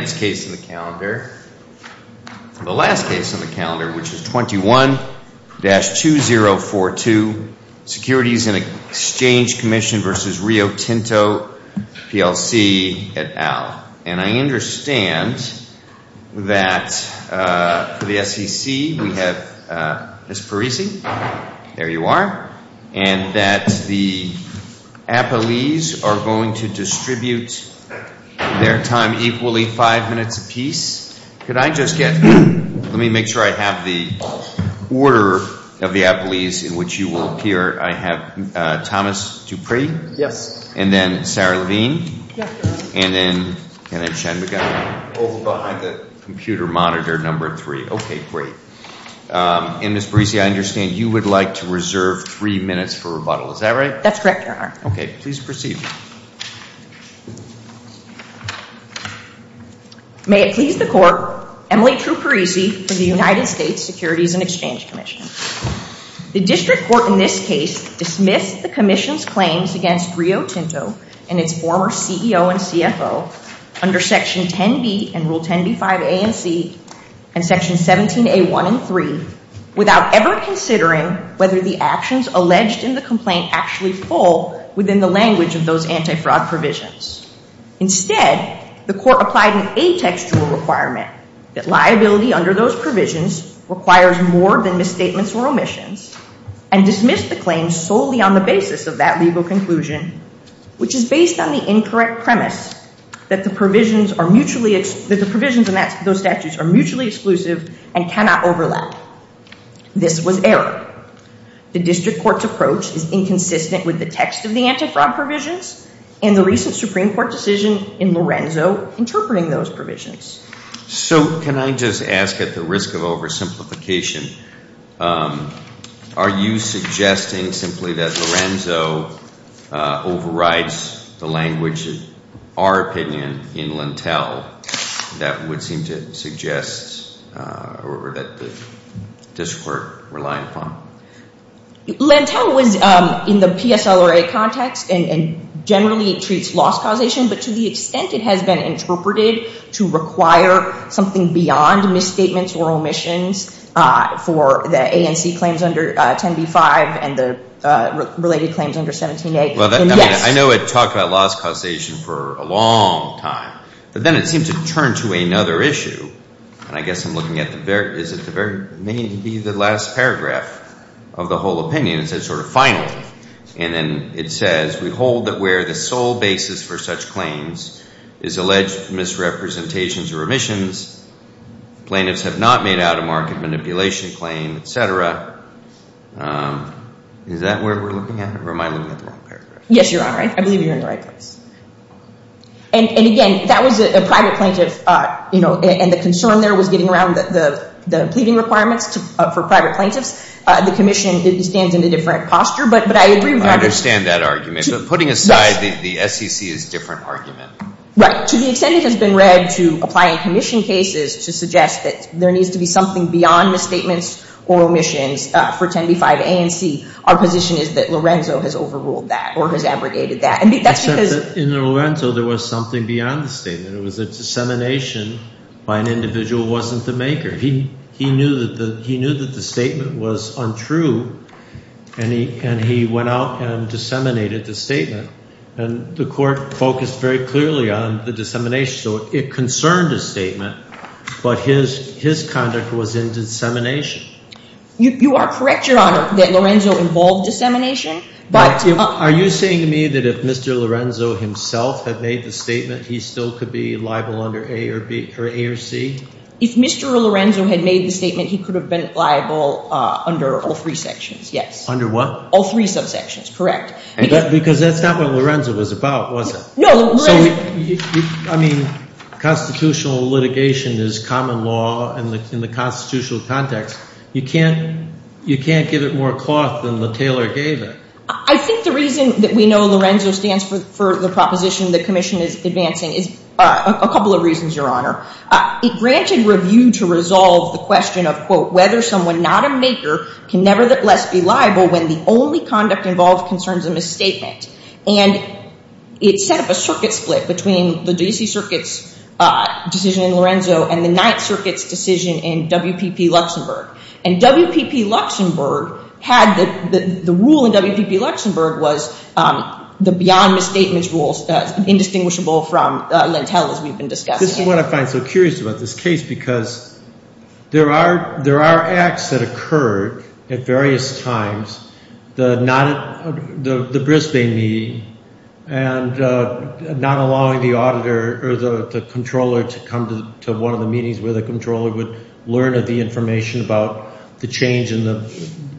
et al. I understand that for the SEC we have Ms. Parisi, there you are, and that the Appalese are going to distribute their time equally, five minutes apiece. Could I just get, let me make sure I have the order of the Appalese in which you will appear. I have Thomas Dupree. Yes. And then Sarah Levine. Yes. And then, and then Shenmugam. Both behind the computer monitor number three. Okay, great. And Ms. Parisi, I understand you would like to reserve three minutes for rebuttal, is that right? That's correct, Your Honor. Okay, please proceed. May it please the Court, Emily True Parisi for the United States Securities and Exchange Commission. The District Court in this case dismissed the Commission's claims against Rio Tinto and its former CEO and CFO under Section 10b and Rule 10b-5 A and C and Section 17a-1 and 3 without ever considering whether the actions alleged in the complaint actually fall within the language of those anti-fraud provisions. Instead, the Court applied an atextual requirement that liability under those provisions requires more than misstatements or omissions and dismissed the claims solely on the basis of that legal conclusion, which is based on the incorrect premise that the provisions are mutually, that the provisions in those statutes are mutually exclusive and cannot overlap. This was error. The District Court's approach is inconsistent with the text of the anti-fraud provisions and the recent Supreme Court decision in Lorenzo interpreting those provisions. So can I just ask at the risk of oversimplification, are you suggesting simply that Lorenzo overrides the language, in our opinion, in Lentel that would seem to suggest or that the District Court relied upon? Lentel was in the PSLRA context and generally it treats loss causation, but to the extent it has been interpreted to require something beyond misstatements or omissions for the A and C claims under 10b-5 and the related claims under 17a, then yes. I know it talked about loss causation for a long time, but then it seemed to turn to another issue, and I guess I'm looking at the very, is it the very, maybe the last paragraph of the whole opinion. It says sort of finally, and then it says, we hold that where the sole basis for such claims is alleged misrepresentations or omissions, plaintiffs have not made out-of-market manipulation claim, et cetera. Is that where we're looking at, or am I looking at the wrong paragraph? Yes, Your Honor. I believe you're in the right place. And again, that was a private plaintiff, and the concern there was getting around the pleading requirements for private plaintiffs. The Commission stands in a different posture, but I agree with that. I understand that argument, but putting aside the SEC is a different argument. Right. To the extent it has been read to apply in Commission cases to suggest that there needs to be something beyond misstatements or omissions for 10b-5 A and C, our position is that Lorenzo has overruled that or has abrogated that. Except that in Lorenzo there was something beyond the statement. It was a dissemination by an individual who wasn't the maker. He knew that the statement was untrue, and he went out and disseminated the statement. And the court focused very clearly on the dissemination. So it concerned his statement, but his conduct was in dissemination. You are correct, Your Honor, that Lorenzo involved dissemination. Are you saying to me that if Mr. Lorenzo himself had made the statement, he still could be liable under A or C? If Mr. Lorenzo had made the statement, he could have been liable under all three sections, yes. Under what? All three subsections, correct. Because that's not what Lorenzo was about, was it? No. I mean, constitutional litigation is common law in the constitutional context. You can't give it more cloth than the tailor gave it. I think the reason that we know Lorenzo stands for the proposition the Commission is advancing is a couple of reasons, Your Honor. It granted review to resolve the question of, quote, whether someone not a maker can nevertheless be liable when the only conduct involved concerns a misstatement. And it set up a circuit split between the D.C. Circuit's decision in Lorenzo and the Ninth Circuit's decision in WPP Luxembourg. And WPP Luxembourg had the rule in WPP Luxembourg was the beyond misstatements rules, indistinguishable from Lentel, as we've been discussing. This is what I find so curious about this case, because there are acts that occurred at various times, the Brisbane meeting and not allowing the auditor or the controller to come to one of the meetings where the controller would learn of the information about the change and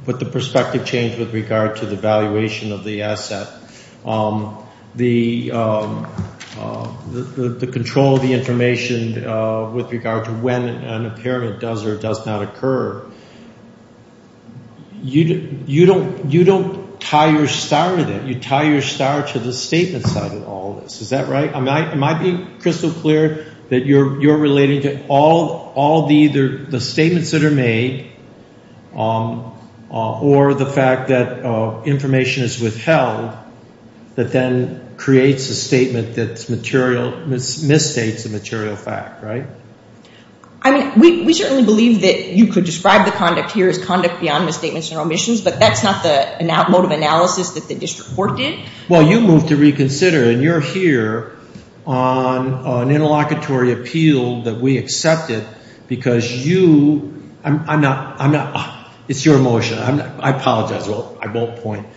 put the perspective change with regard to the valuation of the asset. The control of the information with regard to when an impairment does or does not occur. You don't tie your star to that. You tie your star to the statement side of all this. Is that right? Am I being crystal clear that you're relating to all the statements that are made or the fact that information is withheld that then creates a statement that misstates a material fact, right? I mean, we certainly believe that you could describe the conduct here as conduct beyond misstatements and omissions, but that's not the mode of analysis that the district court did. Well, you moved to reconsider, and you're here on an interlocutory appeal that we accepted because you, I'm not, it's your motion. I apologize. I won't point.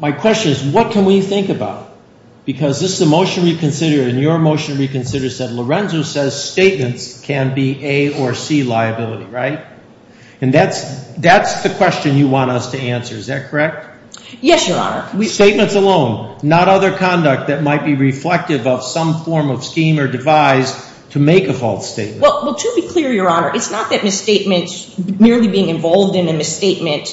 My question is, what can we think about? Because this is a motion to reconsider, and your motion to reconsider said Lorenzo says statements can be A or C liability, right? And that's the question you want us to answer. Is that correct? Yes, Your Honor. Statements alone, not other conduct that might be reflective of some form of scheme or device to make a false statement. Well, to be clear, Your Honor, it's not that misstatements, merely being involved in a misstatement,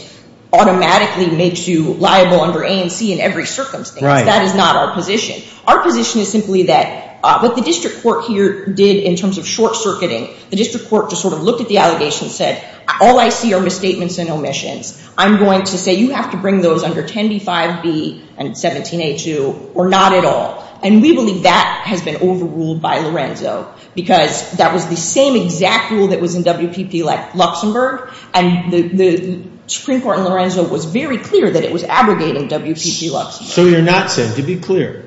automatically makes you liable under A and C in every circumstance. That is not our position. Our position is simply that what the district court here did in terms of short-circuiting, the district court just sort of looked at the allegation and said, all I see are misstatements and omissions. I'm going to say you have to bring those under 10b-5b and 17a-2 or not at all. And we believe that has been overruled by Lorenzo because that was the same exact rule that was in WPP Luxembourg, and the Supreme Court in Lorenzo was very clear that it was abrogating WPP Luxembourg. So you're not saying, to be clear,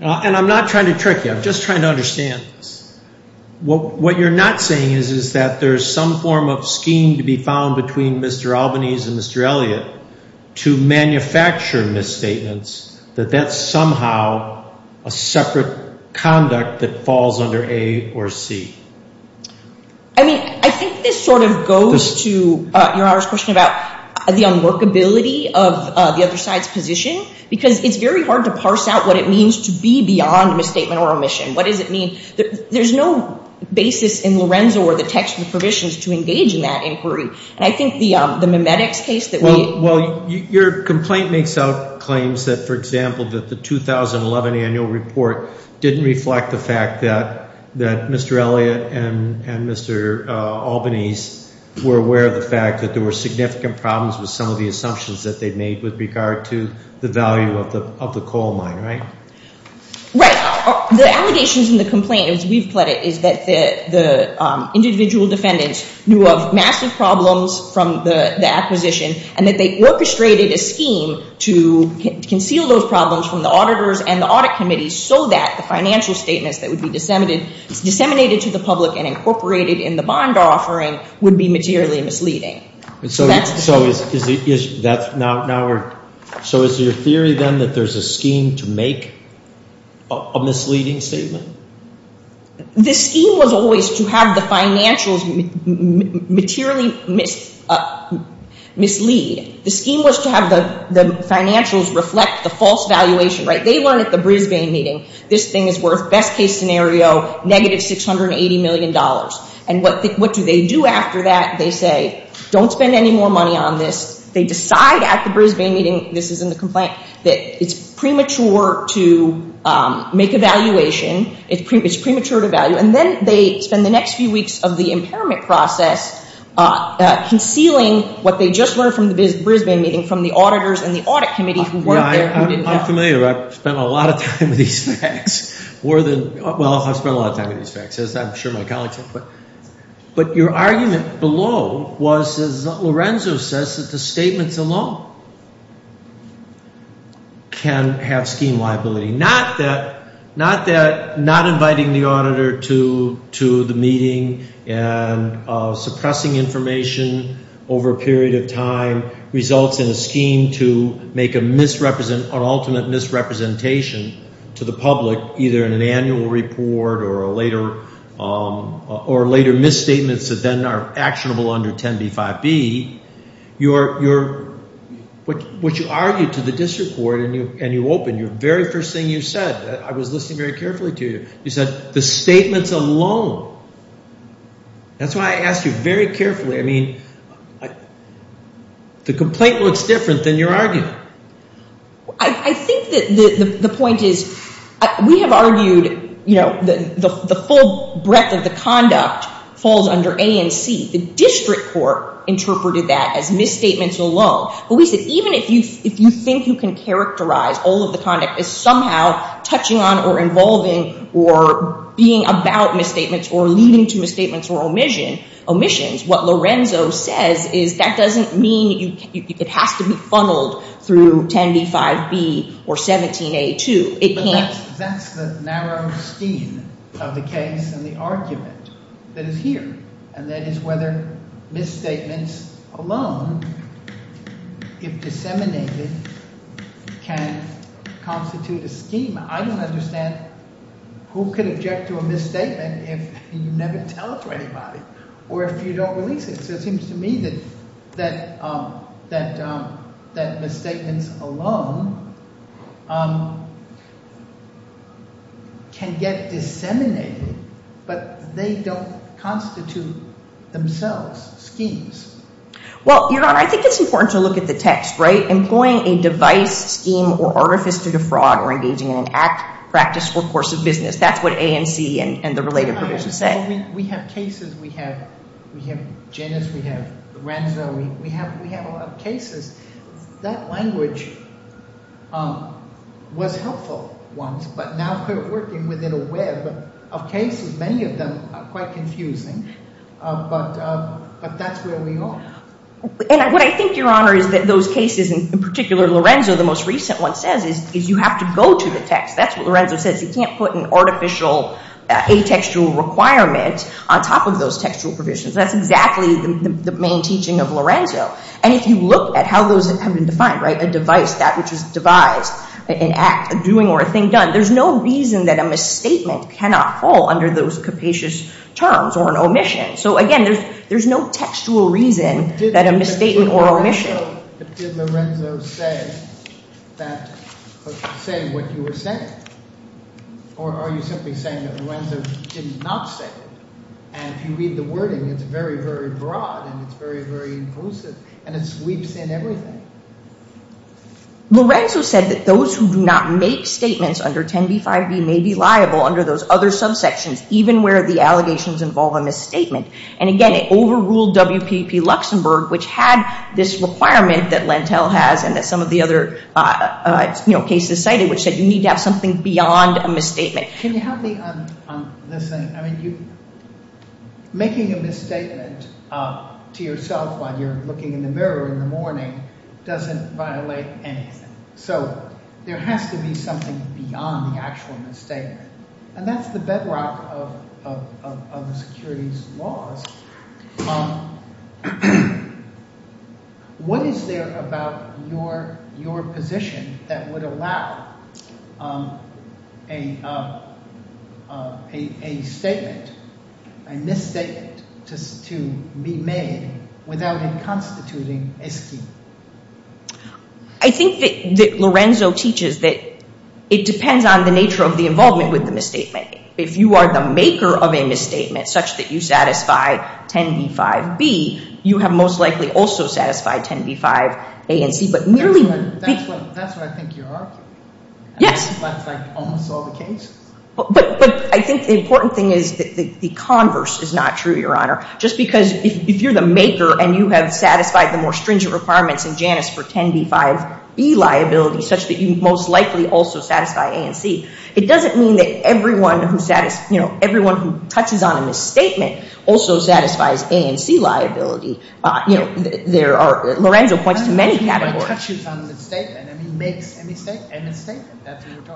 and I'm not trying to trick you. I'm just trying to understand this. What you're not saying is that there's some form of scheme to be found between Mr. Albanese and Mr. Elliott to manufacture misstatements, that that's somehow a separate conduct that falls under A or C. I mean, I think this sort of goes to Your Honor's question about the unworkability of the other side's position because it's very hard to parse out what it means to be beyond a misstatement or omission. What does it mean? There's no basis in Lorenzo or the text of the provisions to engage in that inquiry, and I think the memetics case that we Well, your complaint makes out claims that, for example, that the 2011 annual report didn't reflect the fact that Mr. Elliott and Mr. Albanese were aware of the fact that there were significant problems with some of the assumptions that they made with regard to the value of the coal mine, right? Right. The allegations in the complaint, as we've put it, is that the individual defendants knew of massive problems from the acquisition and that they orchestrated a scheme to conceal those problems from the auditors and the audit committee so that the financial statements that would be disseminated to the public and incorporated in the bond offering would be materially misleading. So is your theory, then, that there's a scheme to make a misleading statement? The scheme was always to have the financials materially mislead. The scheme was to have the financials reflect the false valuation, right? They learned at the Brisbane meeting, this thing is worth, best case scenario, negative $680 million. And what do they do after that? They say, don't spend any more money on this. They decide at the Brisbane meeting, this is in the complaint, that it's premature to make a valuation. It's premature to value. And then they spend the next few weeks of the impairment process concealing what they just learned from the Brisbane meeting from the auditors and the audit committee who weren't there, who didn't know. I'm familiar. I've spent a lot of time with these facts. Well, I've spent a lot of time with these facts, as I'm sure my colleagues have. But your argument below was, as Lorenzo says, that the statements alone can have scheme liability. Not that not inviting the auditor to the meeting and suppressing information over a period of time results in a scheme to make an ultimate misrepresentation to the public, either in an annual report or later misstatements that then are actionable under 10b-5b. What you argued to the district court and you opened, your very first thing you said, I was listening very carefully to you, you said, the statements alone. That's why I asked you very carefully. I mean, the complaint looks different than your argument. I think that the point is we have argued, you know, the full breadth of the conduct falls under A and C. The district court interpreted that as misstatements alone. But we said even if you think you can characterize all of the conduct as somehow touching on or involving or being about misstatements or leading to misstatements or omissions, what Lorenzo says is that doesn't mean it has to be funneled through 10b-5b or 17a too. It can't. But that's the narrow scheme of the case and the argument that is here, and that is whether misstatements alone, if disseminated, can constitute a scheme. I don't understand who could object to a misstatement if you never tell it to anybody or if you don't release it, so it seems to me that misstatements alone can get disseminated, but they don't constitute themselves schemes. Well, Your Honor, I think it's important to look at the text, right? Employing a device, scheme, or artifice to defraud or engaging in an act, practice, or course of business. That's what A and C and the related provisions say. We have cases. We have Janus. We have Lorenzo. We have a lot of cases. That language was helpful once, but now we're working within a web of cases. Many of them are quite confusing, but that's where we are. And what I think, Your Honor, is that those cases, in particular Lorenzo, the most recent one says is you have to go to the text. That's what Lorenzo says. He can't put an artificial, atextual requirement on top of those textual provisions. That's exactly the main teaching of Lorenzo. And if you look at how those have been defined, right, a device, that which is devised, an act, a doing or a thing done, there's no reason that a misstatement cannot fall under those capacious terms or an omission. So, again, there's no textual reason that a misstatement or omission. But did Lorenzo say what you were saying? Or are you simply saying that Lorenzo did not say it? And if you read the wording, it's very, very broad, and it's very, very inclusive, and it sweeps in everything. Lorenzo said that those who do not make statements under 10b-5b may be liable under those other subsections, even where the allegations involve a misstatement. And, again, it overruled WPP Luxembourg, which had this requirement that Lentil has and that some of the other cases cited, which said you need to have something beyond a misstatement. Can you help me on this thing? I mean, making a misstatement to yourself while you're looking in the mirror in the morning doesn't violate anything. So there has to be something beyond the actual misstatement. And that's the bedrock of the securities laws. What is there about your position that would allow a statement, a misstatement, to be made without it constituting a scheme? I think that Lorenzo teaches that it depends on the nature of the involvement with the misstatement. If you are the maker of a misstatement such that you satisfy 10b-5b, you have most likely also satisfied 10b-5a and c. That's what I think you're arguing? Yes. That's like almost all the cases? But I think the important thing is that the converse is not true, Your Honor. Just because if you're the maker and you have satisfied the more stringent requirements in Janus for 10b-5b liability, such that you most likely also satisfy a and c, it doesn't mean that everyone who touches on a misstatement also satisfies a and c liability. Lorenzo points to many categories. Everyone touches on the misstatement and he makes a misstatement.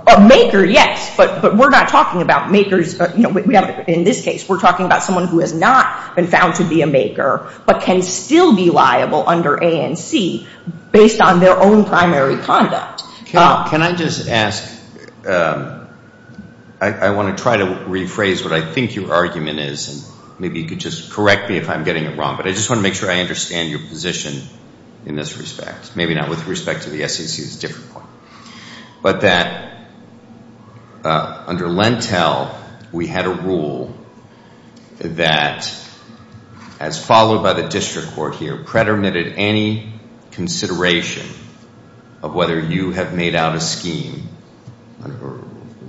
A maker, yes, but we're not talking about makers. In this case, we're talking about someone who has not been found to be a maker but can still be liable under a and c based on their own primary conduct. Can I just ask? I want to try to rephrase what I think your argument is, and maybe you could just correct me if I'm getting it wrong, but I just want to make sure I understand your position in this respect. Maybe not with respect to the SEC. It's a different point. But that under Lentel, we had a rule that, as followed by the district court here, predetermined any consideration of whether you have made out a scheme,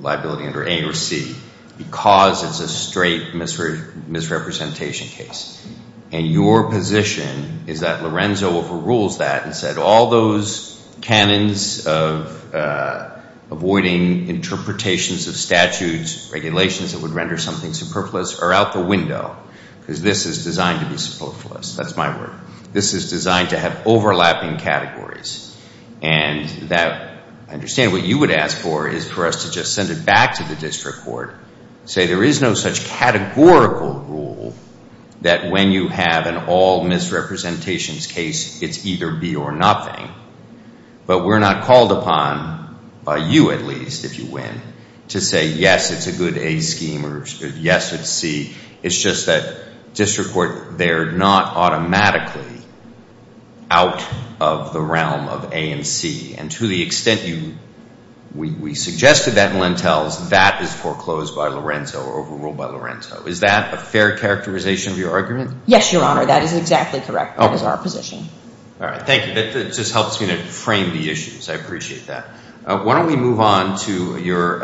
liability under a or c, because it's a straight misrepresentation case. And your position is that Lorenzo overrules that and said all those canons of avoiding interpretations of statutes, regulations that would render something superfluous, are out the window because this is designed to be superfluous. That's my word. This is designed to have overlapping categories. And I understand what you would ask for is for us to just send it back to the district court, say there is no such categorical rule that when you have an all misrepresentations case, it's either b or nothing. But we're not called upon, by you at least, if you win, to say yes, it's a good a scheme or yes, it's c. It's just that district court, they're not automatically out of the realm of a and c. And to the extent we suggested that in Lentels, that is foreclosed by Lorenzo or overruled by Lorenzo. Is that a fair characterization of your argument? Yes, Your Honor. That is exactly correct. That is our position. All right. Thank you. That just helps me to frame the issues. I appreciate that. Why don't we move on to your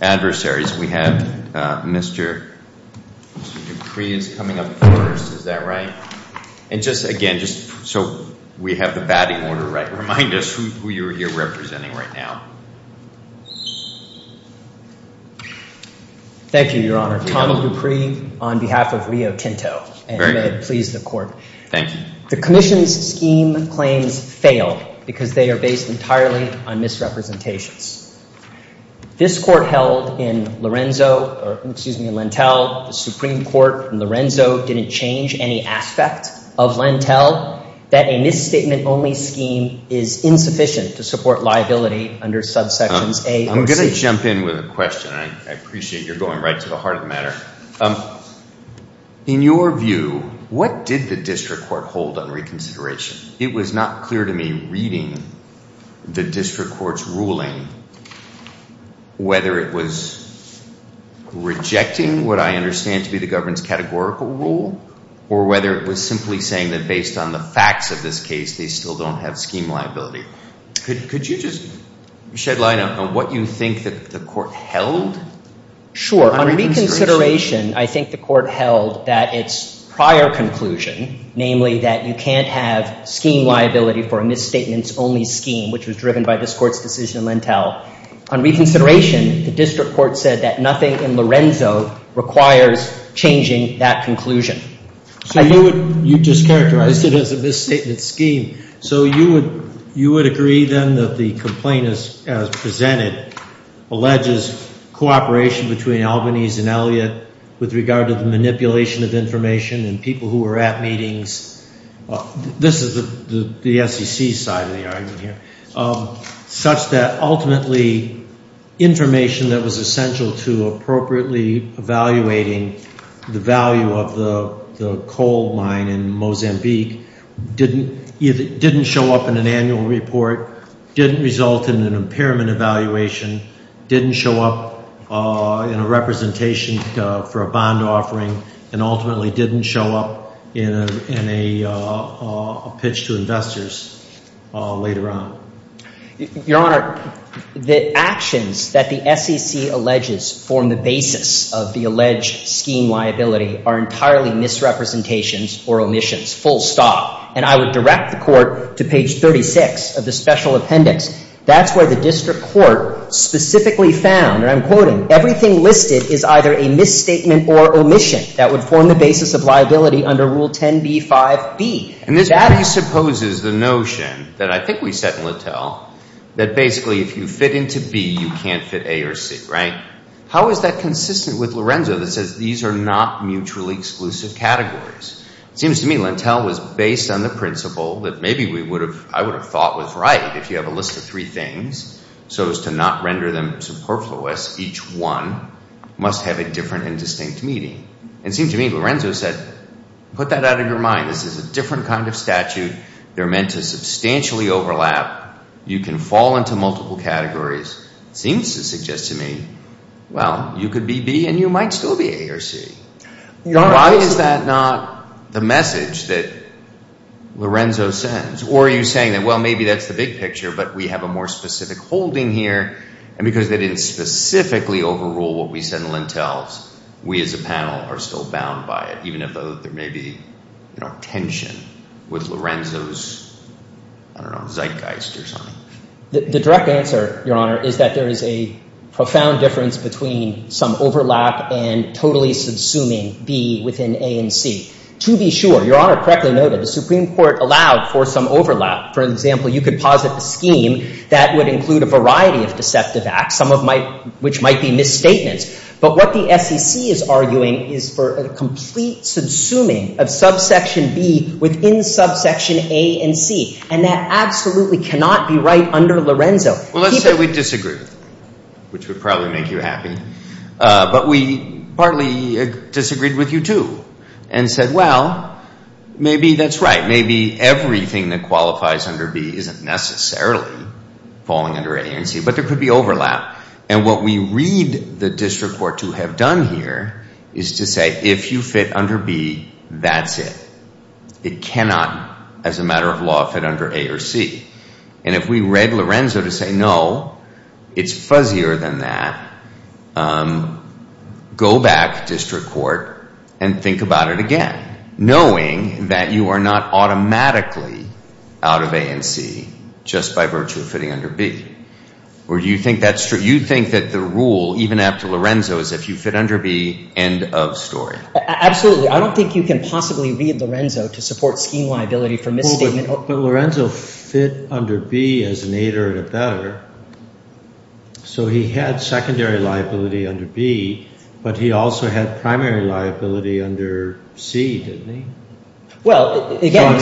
adversaries. We have Mr. Dupree is coming up first. Is that right? And just, again, just so we have the batting order right, remind us who you're representing right now. Thank you, Your Honor. Tommy Dupree on behalf of Rio Tinto. And may it please the court. Thank you. The commission's scheme claims fail because they are based entirely on misrepresentations. This court held in Lorenzo, or excuse me, Lentel, the Supreme Court in Lorenzo, didn't change any aspect of Lentel, that a misstatement only scheme is insufficient to support liability under subsections a and c. I'm going to jump in with a question. I appreciate you're going right to the heart of the matter. In your view, what did the district court hold on reconsideration? It was not clear to me reading the district court's ruling whether it was rejecting what I understand to be the government's categorical rule or whether it was simply saying that based on the facts of this case they still don't have scheme liability. Could you just shed light on what you think the court held? Sure. On reconsideration, I think the court held that its prior conclusion, namely that you can't have scheme liability for a misstatements only scheme, which was driven by this court's decision in Lentel. On reconsideration, the district court said that nothing in Lorenzo requires changing that conclusion. So you just characterized it as a misstatement scheme. So you would agree then that the complaint as presented alleges cooperation between Albany's and Elliot with regard to the manipulation of information and people who were at meetings, this is the SEC side of the argument here, such that ultimately information that was essential to appropriately evaluating the value of the coal mine in Mozambique didn't show up in an annual report, didn't result in an impairment evaluation, didn't show up in a representation for a bond offering, and ultimately didn't show up in a pitch to investors later on. Your Honor, the actions that the SEC alleges form the basis of the alleged scheme liability are entirely misrepresentations or omissions, full stop. And I would direct the court to page 36 of the special appendix. That's where the district court specifically found, and I'm quoting, everything listed is either a misstatement or omission that would form the basis of liability under Rule 10b-5b. And this presupposes the notion that I think we said in Lentel that basically if you fit into B, you can't fit A or C, right? How is that consistent with Lorenzo that says these are not mutually exclusive categories? It seems to me Lentel was based on the principle that maybe I would have thought was right if you have a list of three things so as to not render them superfluous. Each one must have a different and distinct meaning. And it seems to me Lorenzo said, put that out of your mind. This is a different kind of statute. They're meant to substantially overlap. You can fall into multiple categories. It seems to suggest to me, well, you could be B and you might still be A or C. Why is that not the message that Lorenzo sends? Or are you saying that, well, maybe that's the big picture, but we have a more specific holding here. And because they didn't specifically overrule what we said in Lentels, we as a panel are still bound by it, even if there may be tension with Lorenzo's, I don't know, zeitgeist or something. The direct answer, Your Honor, is that there is a profound difference between some overlap and totally subsuming B within A and C. To be sure, Your Honor correctly noted the Supreme Court allowed for some overlap. For example, you could posit a scheme that would include a variety of deceptive acts, some of which might be misstatements. But what the SEC is arguing is for a complete subsuming of subsection B within subsection A and C. And that absolutely cannot be right under Lorenzo. Well, let's say we disagreed, which would probably make you happy. But we partly disagreed with you, too, and said, well, maybe that's right. Maybe everything that qualifies under B isn't necessarily falling under A and C, but there could be overlap. And what we read the district court to have done here is to say, if you fit under B, that's it. It cannot, as a matter of law, fit under A or C. And if we read Lorenzo to say, no, it's fuzzier than that, go back, district court, and think about it again, knowing that you are not automatically out of A and C just by virtue of fitting under B. Or do you think that's true? You think that the rule, even after Lorenzo, is if you fit under B, end of story. Absolutely. I don't think you can possibly read Lorenzo to support scheme liability for misstatement. But Lorenzo fit under B as an aider to better. So he had secondary liability under B, but he also had primary liability under C, didn't he? Well, again,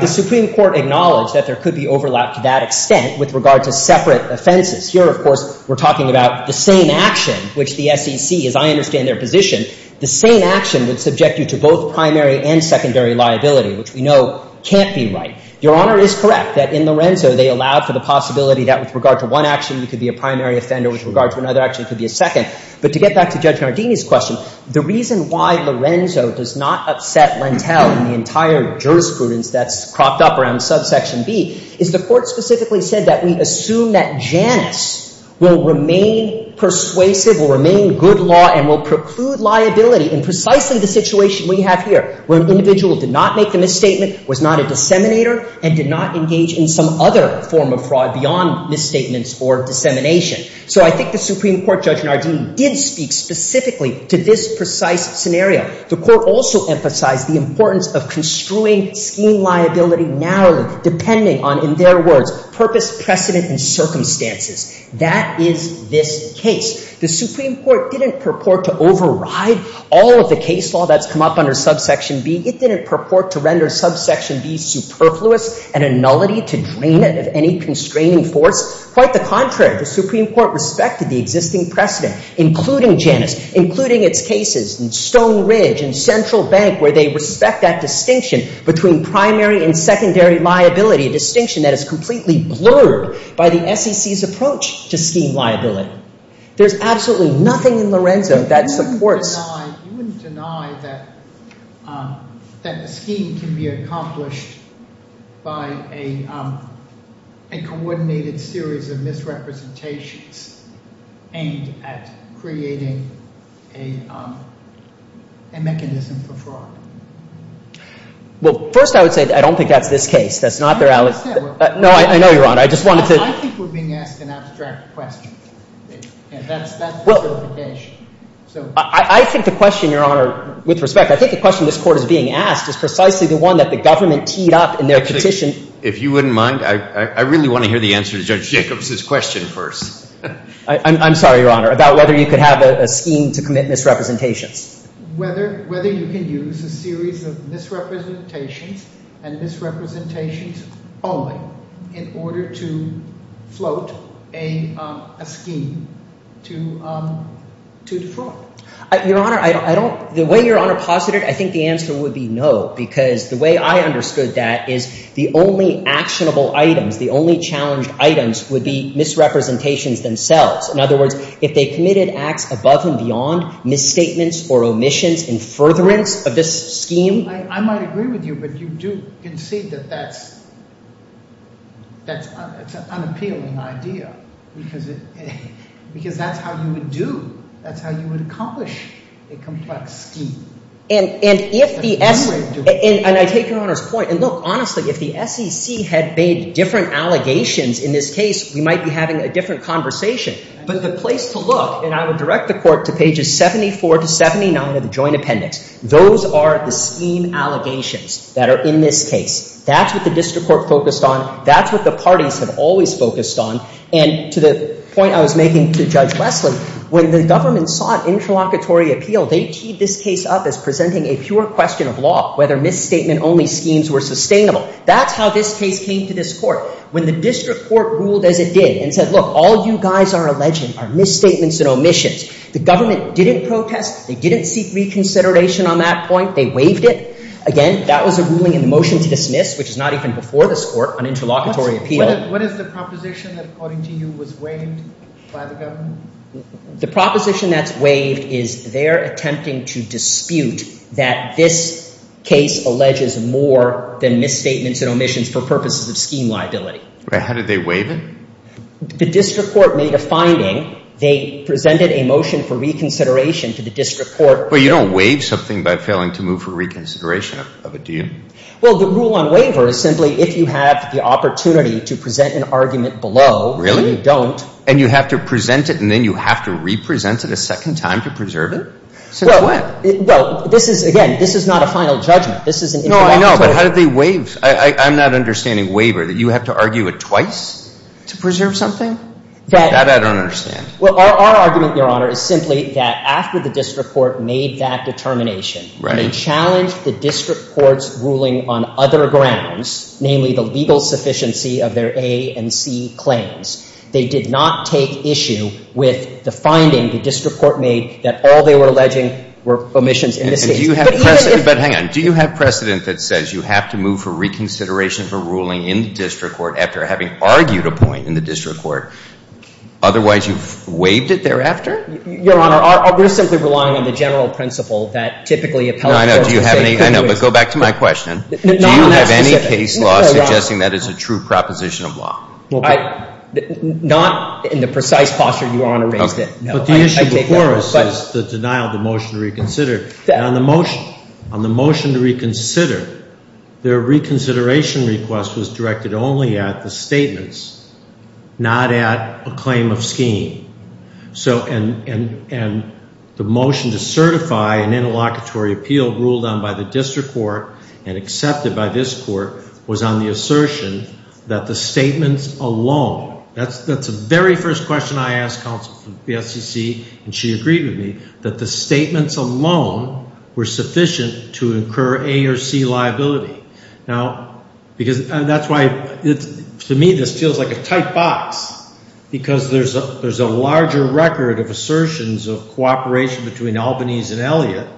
the Supreme Court acknowledged that there could be overlap to that extent with regard to separate offenses. Here, of course, we're talking about the same action, which the SEC, as I understand their position, the same action would subject you to both primary and secondary liability, which we know can't be right. Your Honor is correct that in Lorenzo, they allowed for the possibility that with regard to one action, you could be a primary offender. But to get back to Judge Nardini's question, the reason why Lorenzo does not upset Lentell in the entire jurisprudence that's cropped up around subsection B is the court specifically said that we assume that Janus will remain persuasive, will remain good law, and will preclude liability in precisely the situation we have here, where an individual did not make the misstatement, was not a disseminator, and did not engage in some other form of fraud beyond misstatements or dissemination. So I think the Supreme Court, Judge Nardini, did speak specifically to this precise scenario. The court also emphasized the importance of construing scheme liability narrowly, depending on, in their words, purpose, precedent, and circumstances. That is this case. The Supreme Court didn't purport to override all of the case law that's come up under subsection B. It didn't purport to render subsection B superfluous and a nullity to drain it of any constraining force. Quite the contrary. The Supreme Court respected the existing precedent, including Janus, including its cases in Stone Ridge and Central Bank, where they respect that distinction between primary and secondary liability, a distinction that is completely blurred by the SEC's approach to scheme liability. There's absolutely nothing in Lorenzo that supports... You wouldn't deny that a scheme can be accomplished by a coordinated series of misrepresentations aimed at creating a mechanism for fraud. Well, first I would say I don't think that's this case. I understand. No, I know, Your Honor. I just wanted to... And that's the justification. I think the question, Your Honor, with respect, I think the question this Court is being asked is precisely the one that the government teed up in their petition... If you wouldn't mind, I really want to hear the answer to Judge Jacobs' question first. I'm sorry, Your Honor, about whether you could have a scheme to commit misrepresentations. Whether you can use a series of misrepresentations and misrepresentations only in order to float a scheme to defraud. Your Honor, I don't... The way Your Honor posited, I think the answer would be no, because the way I understood that is the only actionable items, the only challenged items would be misrepresentations themselves. In other words, if they committed acts above and beyond misstatements or omissions in furtherance of this scheme... I might agree with you, but you do concede that that's an unappealing idea, because that's how you would do, that's how you would accomplish a complex scheme. And I take Your Honor's point, and look, honestly, if the SEC had made different allegations in this case, we might be having a different conversation. But the place to look, and I would direct the Court to pages 74 to 79 of the Joint Appendix, those are the scheme allegations that are in this case. That's what the District Court focused on. That's what the parties have always focused on. And to the point I was making to Judge Wesley, when the government sought interlocutory appeal, they teed this case up as presenting a pure question of law, whether misstatement-only schemes were sustainable. That's how this case came to this Court. When the District Court ruled as it did and said, look, all you guys are alleging are misstatements and omissions, the government didn't protest, they didn't seek reconsideration on that point, they waived it. Again, that was a ruling in the motion to dismiss, which is not even before this Court, an interlocutory appeal. What is the proposition that, according to you, was waived by the government? The proposition that's waived is they're attempting to dispute that this case alleges more than misstatements and omissions for purposes of scheme liability. How did they waive it? The District Court made a finding. They presented a motion for reconsideration to the District Court. But you don't waive something by failing to move for reconsideration of it, do you? Well, the rule on waiver is simply if you have the opportunity to present an argument below and you don't. Really? And you have to present it and then you have to represent it a second time to preserve it? Since when? Well, this is, again, this is not a final judgment. This is an interlocutory appeal. No, I know, but how did they waive? I'm not understanding waiver, that you have to argue it twice to preserve something? That I don't understand. Well, our argument, Your Honor, is simply that after the District Court made that determination and challenged the District Court's ruling on other grounds, namely the legal sufficiency of their A and C claims, they did not take issue with the finding the District Court made that all they were alleging were omissions in this case. But do you have precedent that says you have to move for reconsideration for ruling in the District Court after having argued a point in the District Court? Otherwise, you've waived it thereafter? Your Honor, we're simply relying on the general principle that typically appellate courts would say you couldn't waive it. I know, but go back to my question. Do you have any case law suggesting that is a true proposition of law? Not in the precise posture Your Honor raised it. But the issue before us is the denial of the motion to reconsider. On the motion to reconsider, their reconsideration request was directed only at the statements, not at a claim of scheme. And the motion to certify an interlocutory appeal ruled on by the District Court and accepted by this Court was on the assertion that the statements alone, that's the very first question I asked counsel from the FCC, and she agreed with me, that the statements alone were sufficient to incur A or C liability. Now, because that's why to me this feels like a tight box, because there's a larger record of assertions of cooperation between Albany's and Elliott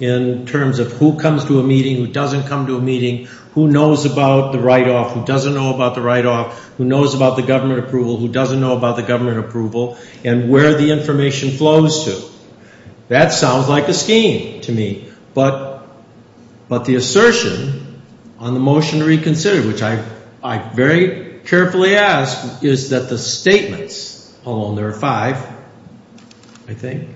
in terms of who comes to a meeting, who doesn't come to a meeting, who knows about the write-off, who doesn't know about the write-off, who knows about the government approval, who doesn't know about the government approval, and where the information flows to. That sounds like a scheme to me. But the assertion on the motion to reconsider, which I very carefully asked, is that the statements alone, there are five, I think,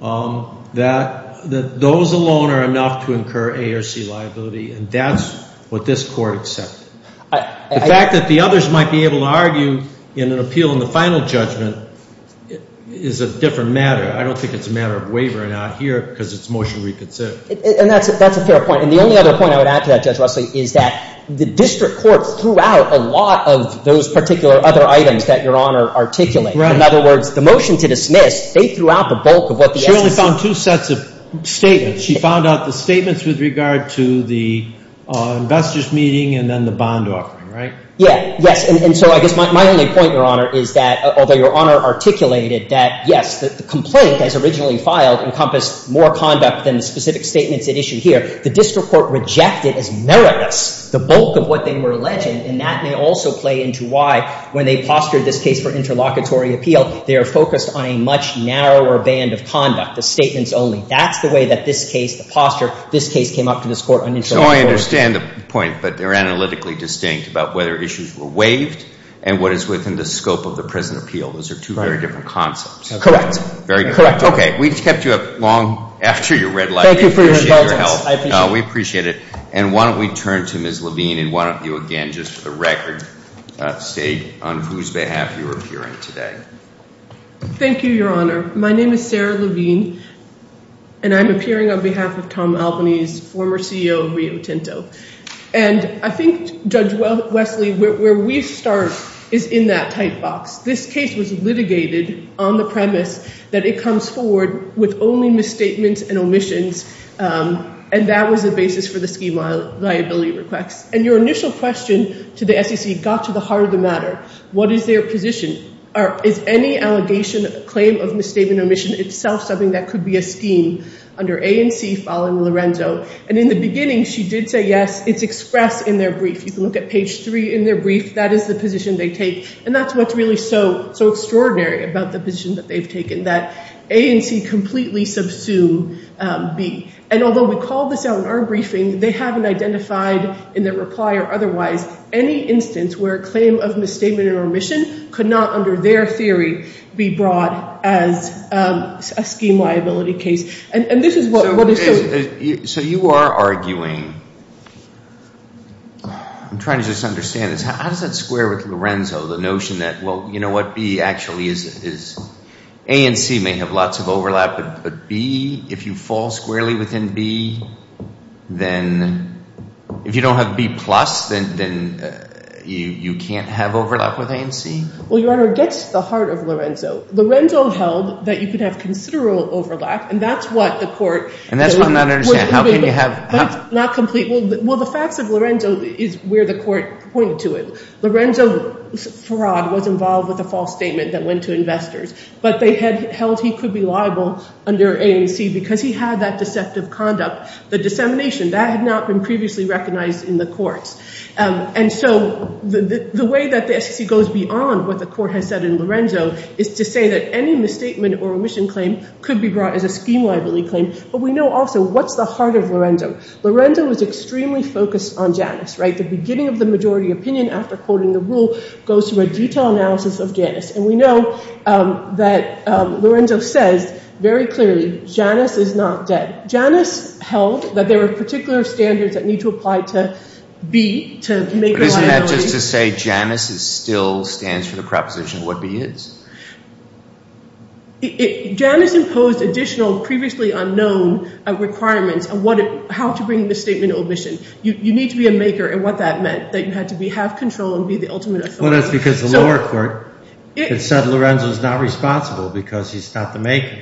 that those alone are enough to incur A or C liability, and that's what this Court accepted. The fact that the others might be able to argue in an appeal in the final judgment is a different matter. I don't think it's a matter of wavering out here because it's a motion to reconsider. And that's a fair point. And the only other point I would add to that, Judge Russell, is that the District Court threw out a lot of those particular other items that Your Honor articulated. Right. In other words, the motion to dismiss, they threw out the bulk of what the FCC— Yeah, yes. And so I guess my only point, Your Honor, is that although Your Honor articulated that, yes, the complaint, as originally filed, encompassed more conduct than the specific statements at issue here, the District Court rejected as meritless the bulk of what they were alleging. And that may also play into why, when they postured this case for interlocutory appeal, they are focused on a much narrower band of conduct, the statements only. That's the way that this case, the posture, this case came up to this Court on interlocutory appeal. So I understand the point, but they're analytically distinct about whether issues were waived and what is within the scope of the present appeal. Those are two very different concepts. Correct. Very good. Correct. Okay. We kept you up long after your red light. Thank you for your indulgence. We appreciate your help. I appreciate it. We appreciate it. And why don't we turn to Ms. Levine, and why don't you, again, just for the record, state on whose behalf you are appearing today. Thank you, Your Honor. My name is Sarah Levine, and I'm appearing on behalf of Tom Albanese, former CEO of Rio Tinto. And I think, Judge Wesley, where we start is in that tight box. This case was litigated on the premise that it comes forward with only misstatements and omissions, and that was the basis for the scheme of liability requests. And your initial question to the SEC got to the heart of the matter. What is their position? Is any allegation, claim of misstatement or omission itself something that could be a scheme under A and C following Lorenzo? And in the beginning, she did say yes. It's expressed in their brief. You can look at page 3 in their brief. That is the position they take. And that's what's really so extraordinary about the position that they've taken, that A and C completely subsume B. And although we called this out in our briefing, they haven't identified in their reply or otherwise any instance where a claim of misstatement or omission could not, under their theory, be brought as a scheme liability case. And this is what is so— So you are arguing—I'm trying to just understand this. How does that square with Lorenzo, the notion that, well, you know what, B actually is— A and C may have lots of overlap, but B, if you fall squarely within B, then if you don't have B plus, then you can't have overlap with A and C? Well, Your Honor, it gets to the heart of Lorenzo. Lorenzo held that you could have considerable overlap, and that's what the court— And that's what I'm not understanding. How can you have— That's not complete. Well, the facts of Lorenzo is where the court pointed to it. Lorenzo's fraud was involved with a false statement that went to investors. But they held he could be liable under A and C because he had that deceptive conduct. The dissemination, that had not been previously recognized in the courts. And so the way that the SEC goes beyond what the court has said in Lorenzo is to say that any misstatement or omission claim could be brought as a scheme liability claim. But we know also what's the heart of Lorenzo. Lorenzo was extremely focused on Janus, right? The beginning of the majority opinion after quoting the rule goes through a detailed analysis of Janus. And we know that Lorenzo says very clearly Janus is not dead. Janus held that there were particular standards that need to apply to B to make a liability— But isn't that just to say Janus still stands for the proposition what B is? Janus imposed additional previously unknown requirements on how to bring the statement of omission. You need to be a maker in what that meant, that you had to have control and be the ultimate authority. Well, that's because the lower court had said Lorenzo is not responsible because he's not the maker,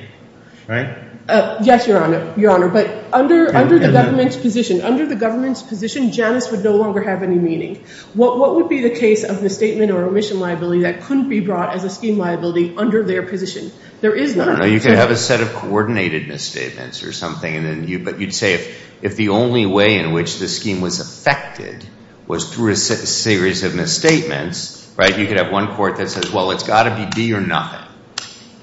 right? Yes, Your Honor. But under the government's position, Janus would no longer have any meaning. What would be the case of misstatement or omission liability that couldn't be brought as a scheme liability under their position? There is none. You could have a set of coordinated misstatements or something. But you'd say if the only way in which the scheme was affected was through a series of misstatements, right? You could have one court that says, well, it's got to be B or nothing.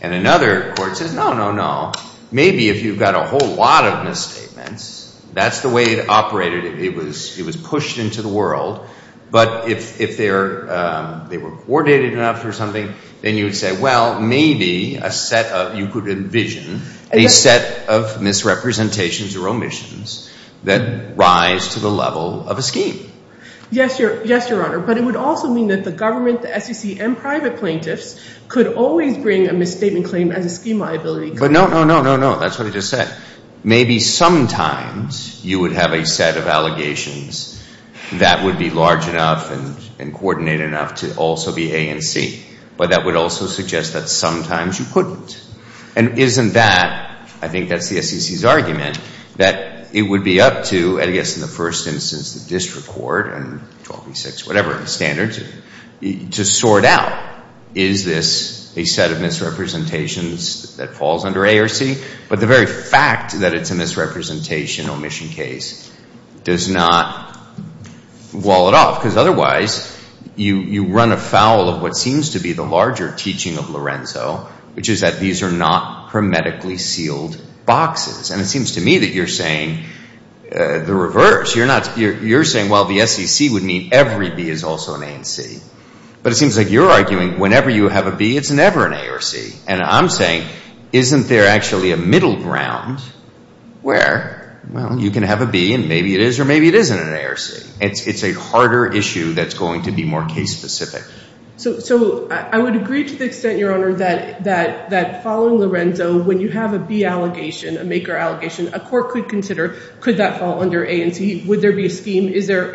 And another court says, no, no, no. Maybe if you've got a whole lot of misstatements, that's the way it operated. It was pushed into the world. But if they were coordinated enough or something, then you would say, well, maybe a set of— you could envision a set of misrepresentations or omissions that rise to the level of a scheme. Yes, Your Honor. But it would also mean that the government, the SEC, and private plaintiffs could always bring a misstatement claim as a scheme liability. But no, no, no, no, no. That's what I just said. Maybe sometimes you would have a set of allegations that would be large enough and coordinated enough to also be A and C. But that would also suggest that sometimes you couldn't. And isn't that—I think that's the SEC's argument—that it would be up to, I guess in the first instance, the district court and 12B6, whatever, the standards to sort out, is this a set of misrepresentations that falls under A or C? But the very fact that it's a misrepresentation omission case does not wall it off. Because otherwise, you run afoul of what seems to be the larger teaching of Lorenzo, which is that these are not hermetically sealed boxes. And it seems to me that you're saying the reverse. You're saying, well, the SEC would mean every B is also an A and C. But it seems like you're arguing whenever you have a B, it's never an A or C. And I'm saying, isn't there actually a middle ground where, well, you can have a B and maybe it is or maybe it isn't an A or C? It's a harder issue that's going to be more case-specific. So I would agree to the extent, Your Honor, that following Lorenzo, when you have a B allegation, a maker allegation, a court could consider, could that fall under A and C? Would there be a scheme? Is there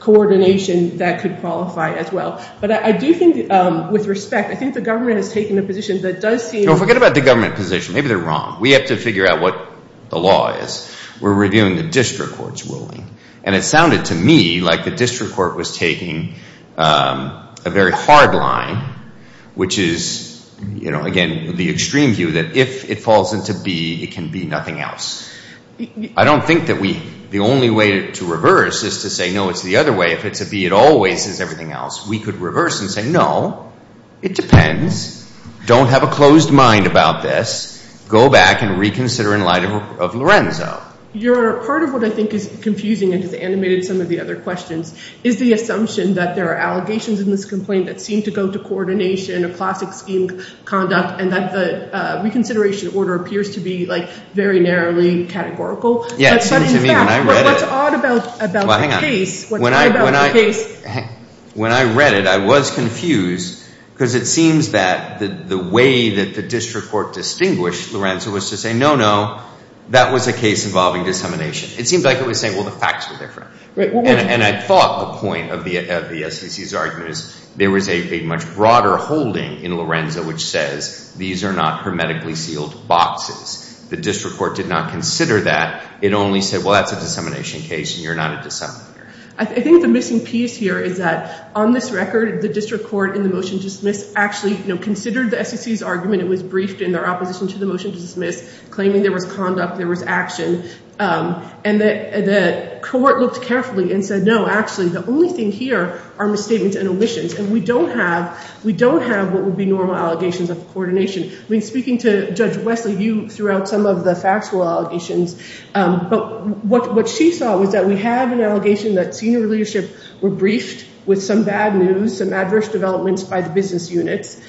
coordination that could qualify as well? But I do think, with respect, I think the government has taken a position that does seem— Forget about the government position. Maybe they're wrong. We're reviewing the district court's ruling. And it sounded to me like the district court was taking a very hard line, which is, again, the extreme view that if it falls into B, it can be nothing else. I don't think that we—the only way to reverse is to say, no, it's the other way. If it's a B, it always is everything else. We could reverse and say, no, it depends. Don't have a closed mind about this. Go back and reconsider in light of Lorenzo. Your Honor, part of what I think is confusing and has animated some of the other questions is the assumption that there are allegations in this complaint that seem to go to coordination, a classic scheme of conduct, and that the reconsideration order appears to be, like, very narrowly categorical. Yeah, it seemed to me when I read it— But in fact, what's odd about the case— Well, hang on. What's odd about the case— It seems like it was saying, well, the facts were different. And I thought the point of the SEC's argument is there was a much broader holding in Lorenzo which says these are not hermetically sealed boxes. The district court did not consider that. It only said, well, that's a dissemination case, and you're not a disseminator. I think the missing piece here is that on this record, the district court in the motion to dismiss actually considered the SEC's argument. It was briefed in their opposition to the motion to dismiss, claiming there was conduct, there was action. And the court looked carefully and said, no, actually, the only thing here are misstatements and omissions, and we don't have what would be normal allegations of coordination. I mean, speaking to Judge Wesley, you threw out some of the factual allegations. But what she saw was that we have an allegation that senior leadership were briefed with some bad news, some adverse developments by the business units.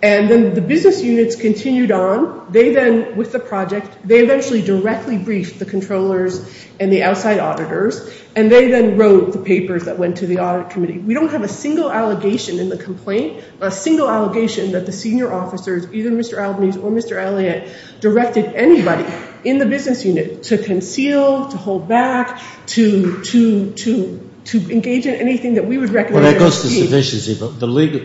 And then the business units continued on. They then, with the project, they eventually directly briefed the controllers and the outside auditors, and they then wrote the papers that went to the audit committee. We don't have a single allegation in the complaint, a single allegation that the senior officers, either Mr. Albanese or Mr. Elliott, directed anybody in the business unit to conceal, to hold back, to engage in anything that we would recommend. Well, that goes to sufficiency, but the legal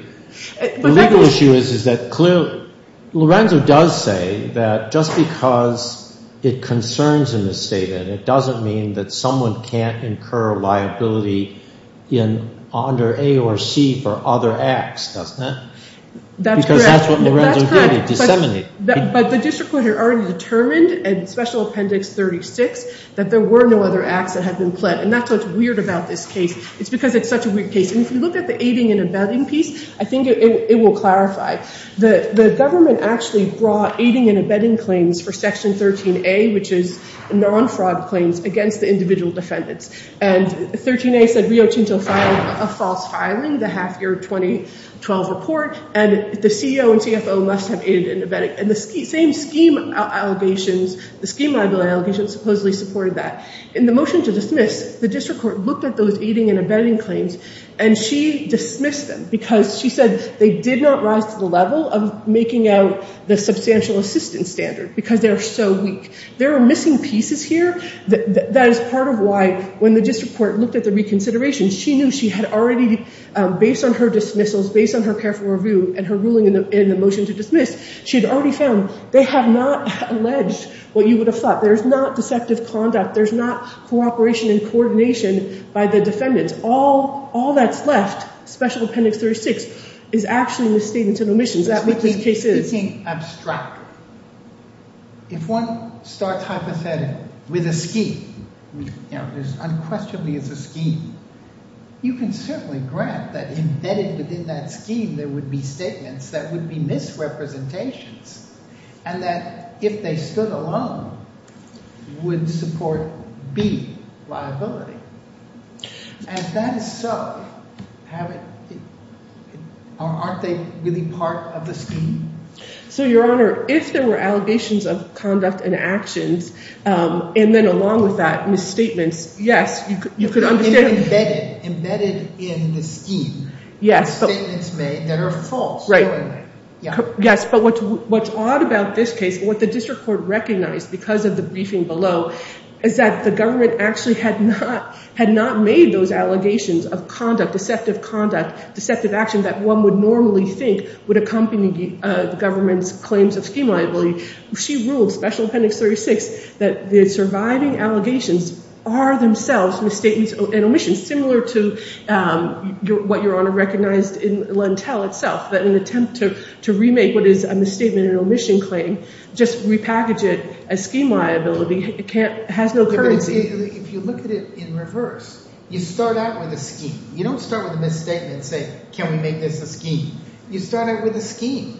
issue is that clearly Lorenzo does say that just because it concerns him as stated, it doesn't mean that someone can't incur liability under A or C for other acts, doesn't it? That's correct. Because that's what Lorenzo did, he disseminated. But the district court had already determined in Special Appendix 36 that there were no other acts that had been pled, and that's what's weird about this case. It's because it's such a weird case. And if you look at the aiding and abetting piece, I think it will clarify. The government actually brought aiding and abetting claims for Section 13A, which is non-fraud claims, against the individual defendants. And 13A said Rio Tinto filed a false filing, the half-year 2012 report, and the CO and CFO must have aided and abetted. And the same scheme allegations, the scheme liability allegations supposedly supported that. In the motion to dismiss, the district court looked at those aiding and abetting claims, and she dismissed them because she said they did not rise to the level of making out the substantial assistance standard because they are so weak. There are missing pieces here. That is part of why when the district court looked at the reconsideration, she knew she had already, based on her dismissals, based on her careful review and her ruling in the motion to dismiss, she had already found they have not alleged what you would have thought. There is not deceptive conduct. There is not cooperation and coordination by the defendants. All that's left, special appendix 36, is actually the statements of omissions. That's what this case is. If one starts hypothetical with a scheme, unquestionably it's a scheme, you can certainly grant that embedded within that scheme there would be statements that would be misrepresentations and that if they stood alone would support B, liability. As that is so, aren't they really part of the scheme? So, Your Honor, if there were allegations of conduct and actions, and then along with that, misstatements, yes, you could understand. Embedded in the scheme, statements made that are false. Yes, but what's odd about this case, what the district court recognized because of the briefing below, is that the government actually had not made those allegations of conduct, deceptive conduct, deceptive action that one would normally think would accompany the government's claims of scheme liability. She ruled, special appendix 36, that the surviving allegations are themselves misstatements and omissions, similar to what Your Honor recognized in Lentel itself, that an attempt to remake what is a misstatement and omission claim, just repackage it as scheme liability, has no currency. If you look at it in reverse, you start out with a scheme. You don't start with a misstatement and say, can we make this a scheme? You start out with a scheme.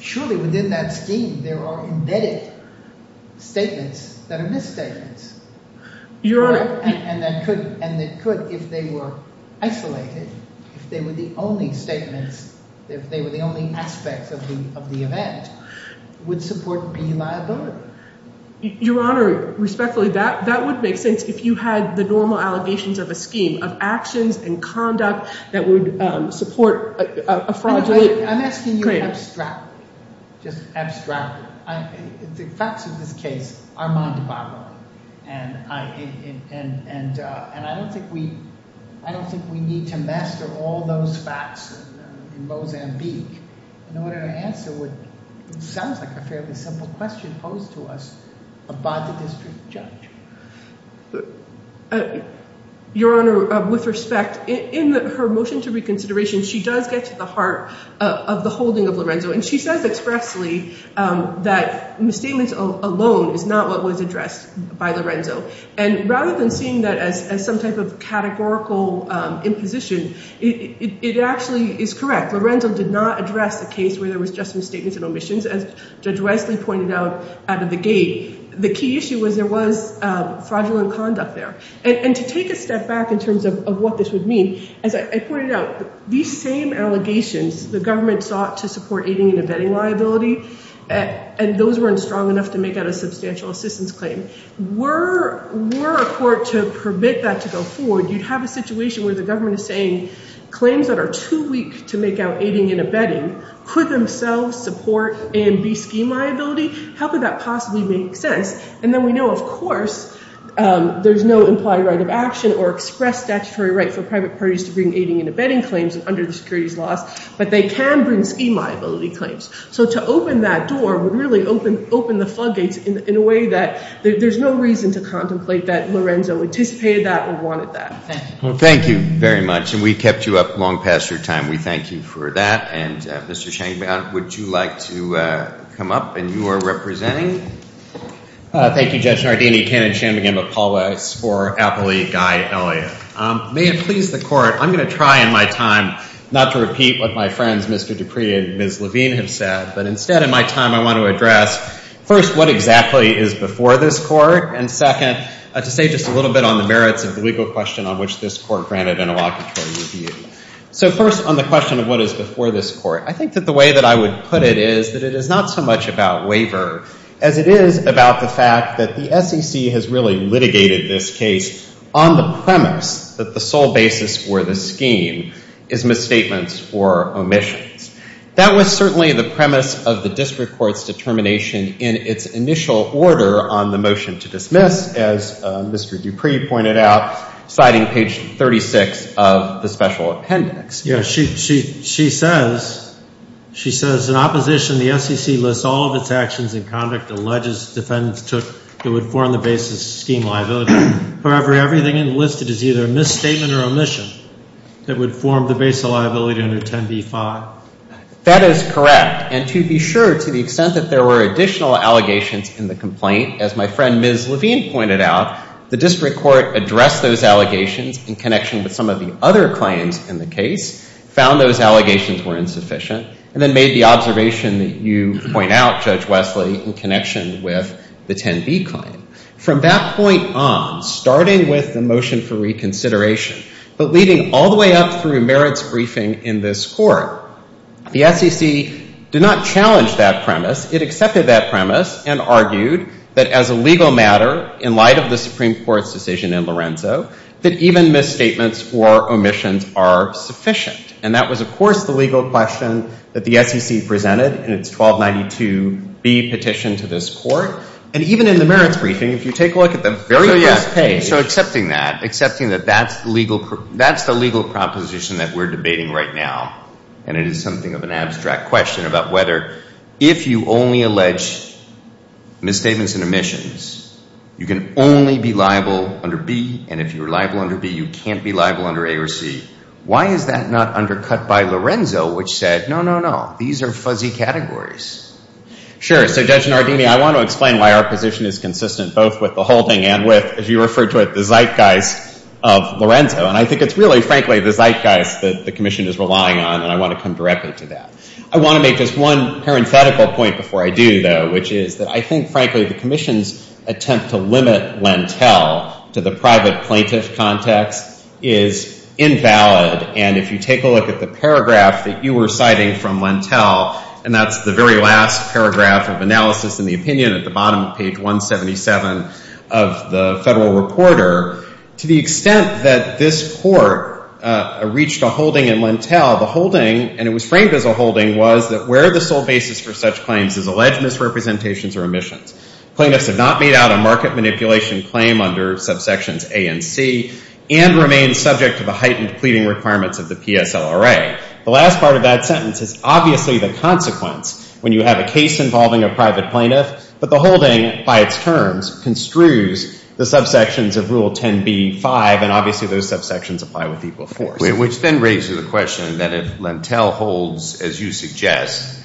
Surely, within that scheme, there are embedded statements that are misstatements. Your Honor. And that could, if they were isolated, if they were the only statements, if they were the only aspects of the event, would support P liability. Your Honor, respectfully, that would make sense if you had the normal allegations of a scheme of actions and conduct that would support a fraudulent claim. I'm asking you abstractly, just abstractly. The facts of this case are mounted by law. And I don't think we need to master all those facts in Mozambique in order to answer what sounds like a fairly simple question posed to us by the district judge. Your Honor, with respect, in her motion to reconsideration, she does get to the heart of the holding of Lorenzo. And she says expressly that misstatements alone is not what was addressed by Lorenzo. And rather than seeing that as some type of categorical imposition, it actually is correct. Lorenzo did not address a case where there was just misstatements and omissions. As Judge Wesley pointed out out of the gate, the key issue was there was fraudulent conduct there. And to take a step back in terms of what this would mean, as I pointed out, these same allegations, the government sought to support aiding and abetting liability, and those weren't strong enough to make out a substantial assistance claim. Were a court to permit that to go forward, you'd have a situation where the government is saying claims that are too weak to make out aiding and abetting could themselves support A and B scheme liability. How could that possibly make sense? And then we know, of course, there's no implied right of action or express statutory right for private parties to bring aiding and abetting claims under the securities laws. But they can bring scheme liability claims. So to open that door would really open the floodgates in a way that there's no reason to contemplate that Lorenzo anticipated that or wanted that. Thank you very much. And we kept you up long past your time. We thank you for that. And Mr. Shanmugam, would you like to come up in your representing? Thank you, Judge Nardini, Kenneth Shanmugam, and Paul Weiss for Appley, Guy, and Elliot. May it please the court, I'm going to try in my time not to repeat what my friends Mr. Dupree and Ms. Levine have said, but instead in my time I want to address, first, what exactly is before this court, and second, to say just a little bit on the merits of the legal question on which this court granted an elocutory review. So first on the question of what is before this court, I think that the way that I would put it is that it is not so much about waiver as it is about the fact that the SEC has really litigated this case on the premise that the sole basis for the scheme is misstatements or omissions. That was certainly the premise of the district court's determination in its initial order on the motion to dismiss, as Mr. Dupree pointed out, citing page 36 of the special appendix. Yes, she says, she says, in opposition, the SEC lists all of its actions and conduct and ledges defendants took that would form the basis of scheme liability. However, everything enlisted is either a misstatement or omission that would form the basis of liability under 10b-5. That is correct. And to be sure, to the extent that there were additional allegations in the complaint, as my friend Ms. Levine pointed out, the district court addressed those allegations in connection with some of the other claims in the case, found those allegations were insufficient, and then made the observation that you point out, Judge Wesley, in connection with the 10b claim. From that point on, starting with the motion for reconsideration, but leading all the way up through merits briefing in this court, the SEC did not challenge that premise. It accepted that premise and argued that as a legal matter, in light of the Supreme Court's decision in Lorenzo, that even misstatements or omissions are sufficient. And that was, of course, the legal question that the SEC presented in its 1292b petition to this court. And even in the merits briefing, if you take a look at the very first page. So accepting that, accepting that that's the legal proposition that we're debating right now, and it is something of an abstract question about whether if you only allege misstatements and omissions, you can only be liable under b, and if you're liable under b, you can't be liable under a or c. Why is that not undercut by Lorenzo, which said, no, no, no, these are fuzzy categories? Sure. So Judge Nardini, I want to explain why our position is consistent both with the holding and with, as you referred to it, the zeitgeist of Lorenzo. And I think it's really, frankly, the zeitgeist that the commission is relying on, and I want to come directly to that. I want to make just one parenthetical point before I do, though, which is that I think, frankly, the commission's attempt to limit Lentell to the private plaintiff context is invalid, and if you take a look at the paragraph that you were citing from Lentell, and that's the very last paragraph of analysis in the opinion at the bottom of page 177 of the Federal Reporter, to the extent that this Court reached a holding in Lentell, the holding, and it was framed as a holding, was that where the sole basis for such claims is alleged misrepresentations or omissions. Plaintiffs have not made out a market manipulation claim under subsections A and C and remain subject to the heightened pleading requirements of the PSLRA. The last part of that sentence is obviously the consequence when you have a case involving a private plaintiff, but the holding, by its terms, construes the subsections of Rule 10b-5, and obviously those subsections apply with equal force. Which then raises the question that if Lentell holds, as you suggest,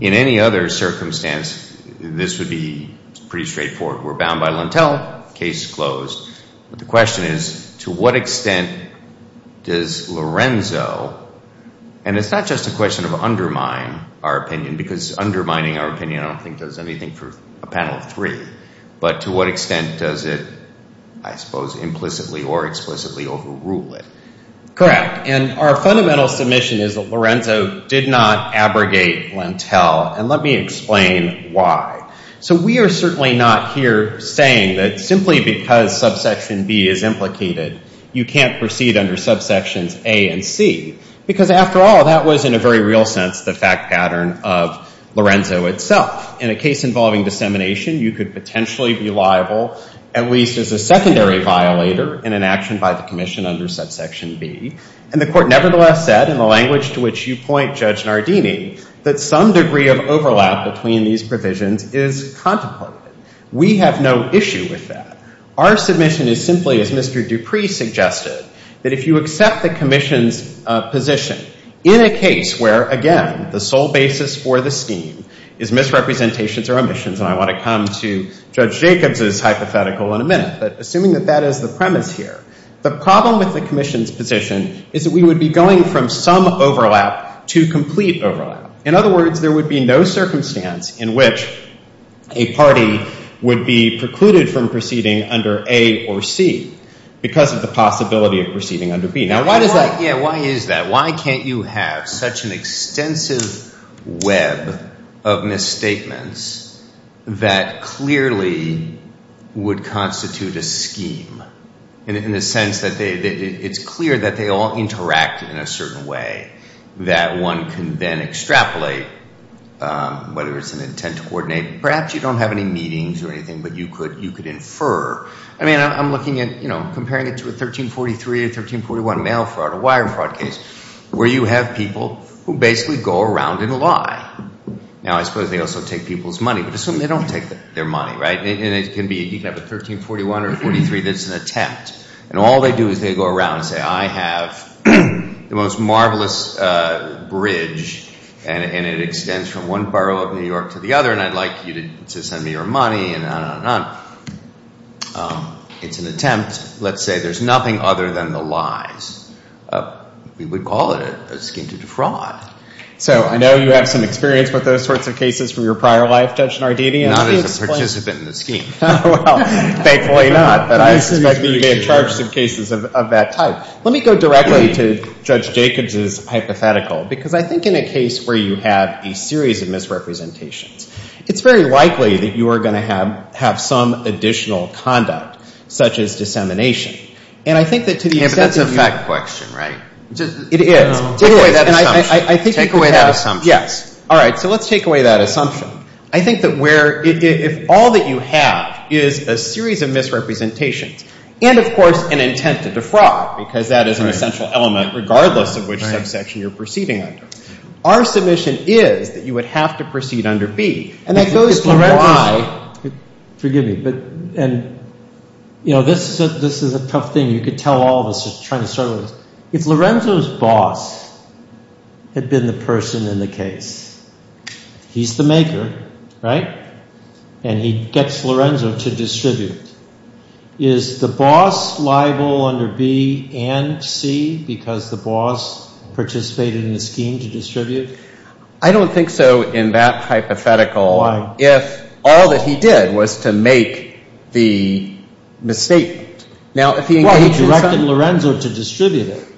in any other circumstance, this would be pretty straightforward. We're bound by Lentell, case closed, but the question is, to what extent does Lorenzo, and it's not just a question of undermine our opinion because undermining our opinion I don't think does anything for a panel of three, but to what extent does it, I suppose, implicitly or explicitly overrule it? Correct, and our fundamental submission is that Lorenzo did not abrogate Lentell, and let me explain why. So we are certainly not here saying that simply because subsection B is implicated, you can't proceed under subsections A and C, because after all, that was in a very real sense the fact pattern of Lorenzo itself. In a case involving dissemination, you could potentially be liable, at least as a secondary violator, in an action by the Commission under subsection B, and the Court nevertheless said, in the language to which you point, Judge Nardini, that some degree of overlap between these provisions is contemplated. We have no issue with that. Our submission is simply, as Mr. Dupree suggested, that if you accept the Commission's position, in a case where, again, the sole basis for the scheme is misrepresentations or omissions, and I want to come to Judge Jacobs' hypothetical in a minute, but assuming that that is the premise here, the problem with the Commission's position is that we would be going from some overlap to complete overlap. In other words, there would be no circumstance in which a party would be precluded from proceeding under A or C because of the possibility of proceeding under B. Why is that? Why can't you have such an extensive web of misstatements that clearly would constitute a scheme, in the sense that it's clear that they all interact in a certain way, that one can then extrapolate, whether it's an intent to coordinate. Perhaps you don't have any meetings or anything, but you could infer. I mean, I'm looking at, you know, comparing it to a 1343, a 1341 mail fraud, a wire fraud case, where you have people who basically go around and lie. Now, I suppose they also take people's money, but assume they don't take their money, right? And you can have a 1341 or a 1343 that's an attempt, and all they do is they go around and say, I have the most marvelous bridge, and it extends from one borough of New York to the other, and I'd like you to send me your money, and on and on and on. It's an attempt. Let's say there's nothing other than the lies. We would call it a scheme to defraud. So I know you have some experience with those sorts of cases from your prior life, Judge Nardini. Not as a participant in the scheme. Well, thankfully not, but I suspect you may have charged some cases of that type. Now, let me go directly to Judge Jacobs' hypothetical, because I think in a case where you have a series of misrepresentations, it's very likely that you are going to have some additional conduct, such as dissemination. And I think that to the extent that you — Yeah, but that's a fact question, right? It is. Take away that assumption. Take away that assumption. Yes. All right. So let's take away that assumption. I think that where — if all that you have is a series of misrepresentations and, of course, an intent to defraud, because that is an essential element regardless of which subsection you're proceeding under, our submission is that you would have to proceed under B. And that goes to why — Forgive me, but — and, you know, this is a tough thing. You could tell all of us just trying to start with this. If Lorenzo's boss had been the person in the case, he's the maker, right? And he gets Lorenzo to distribute. Is the boss liable under B and C because the boss participated in the scheme to distribute? I don't think so in that hypothetical. Why? If all that he did was to make the misstatement. Well, he directed Lorenzo to distribute it,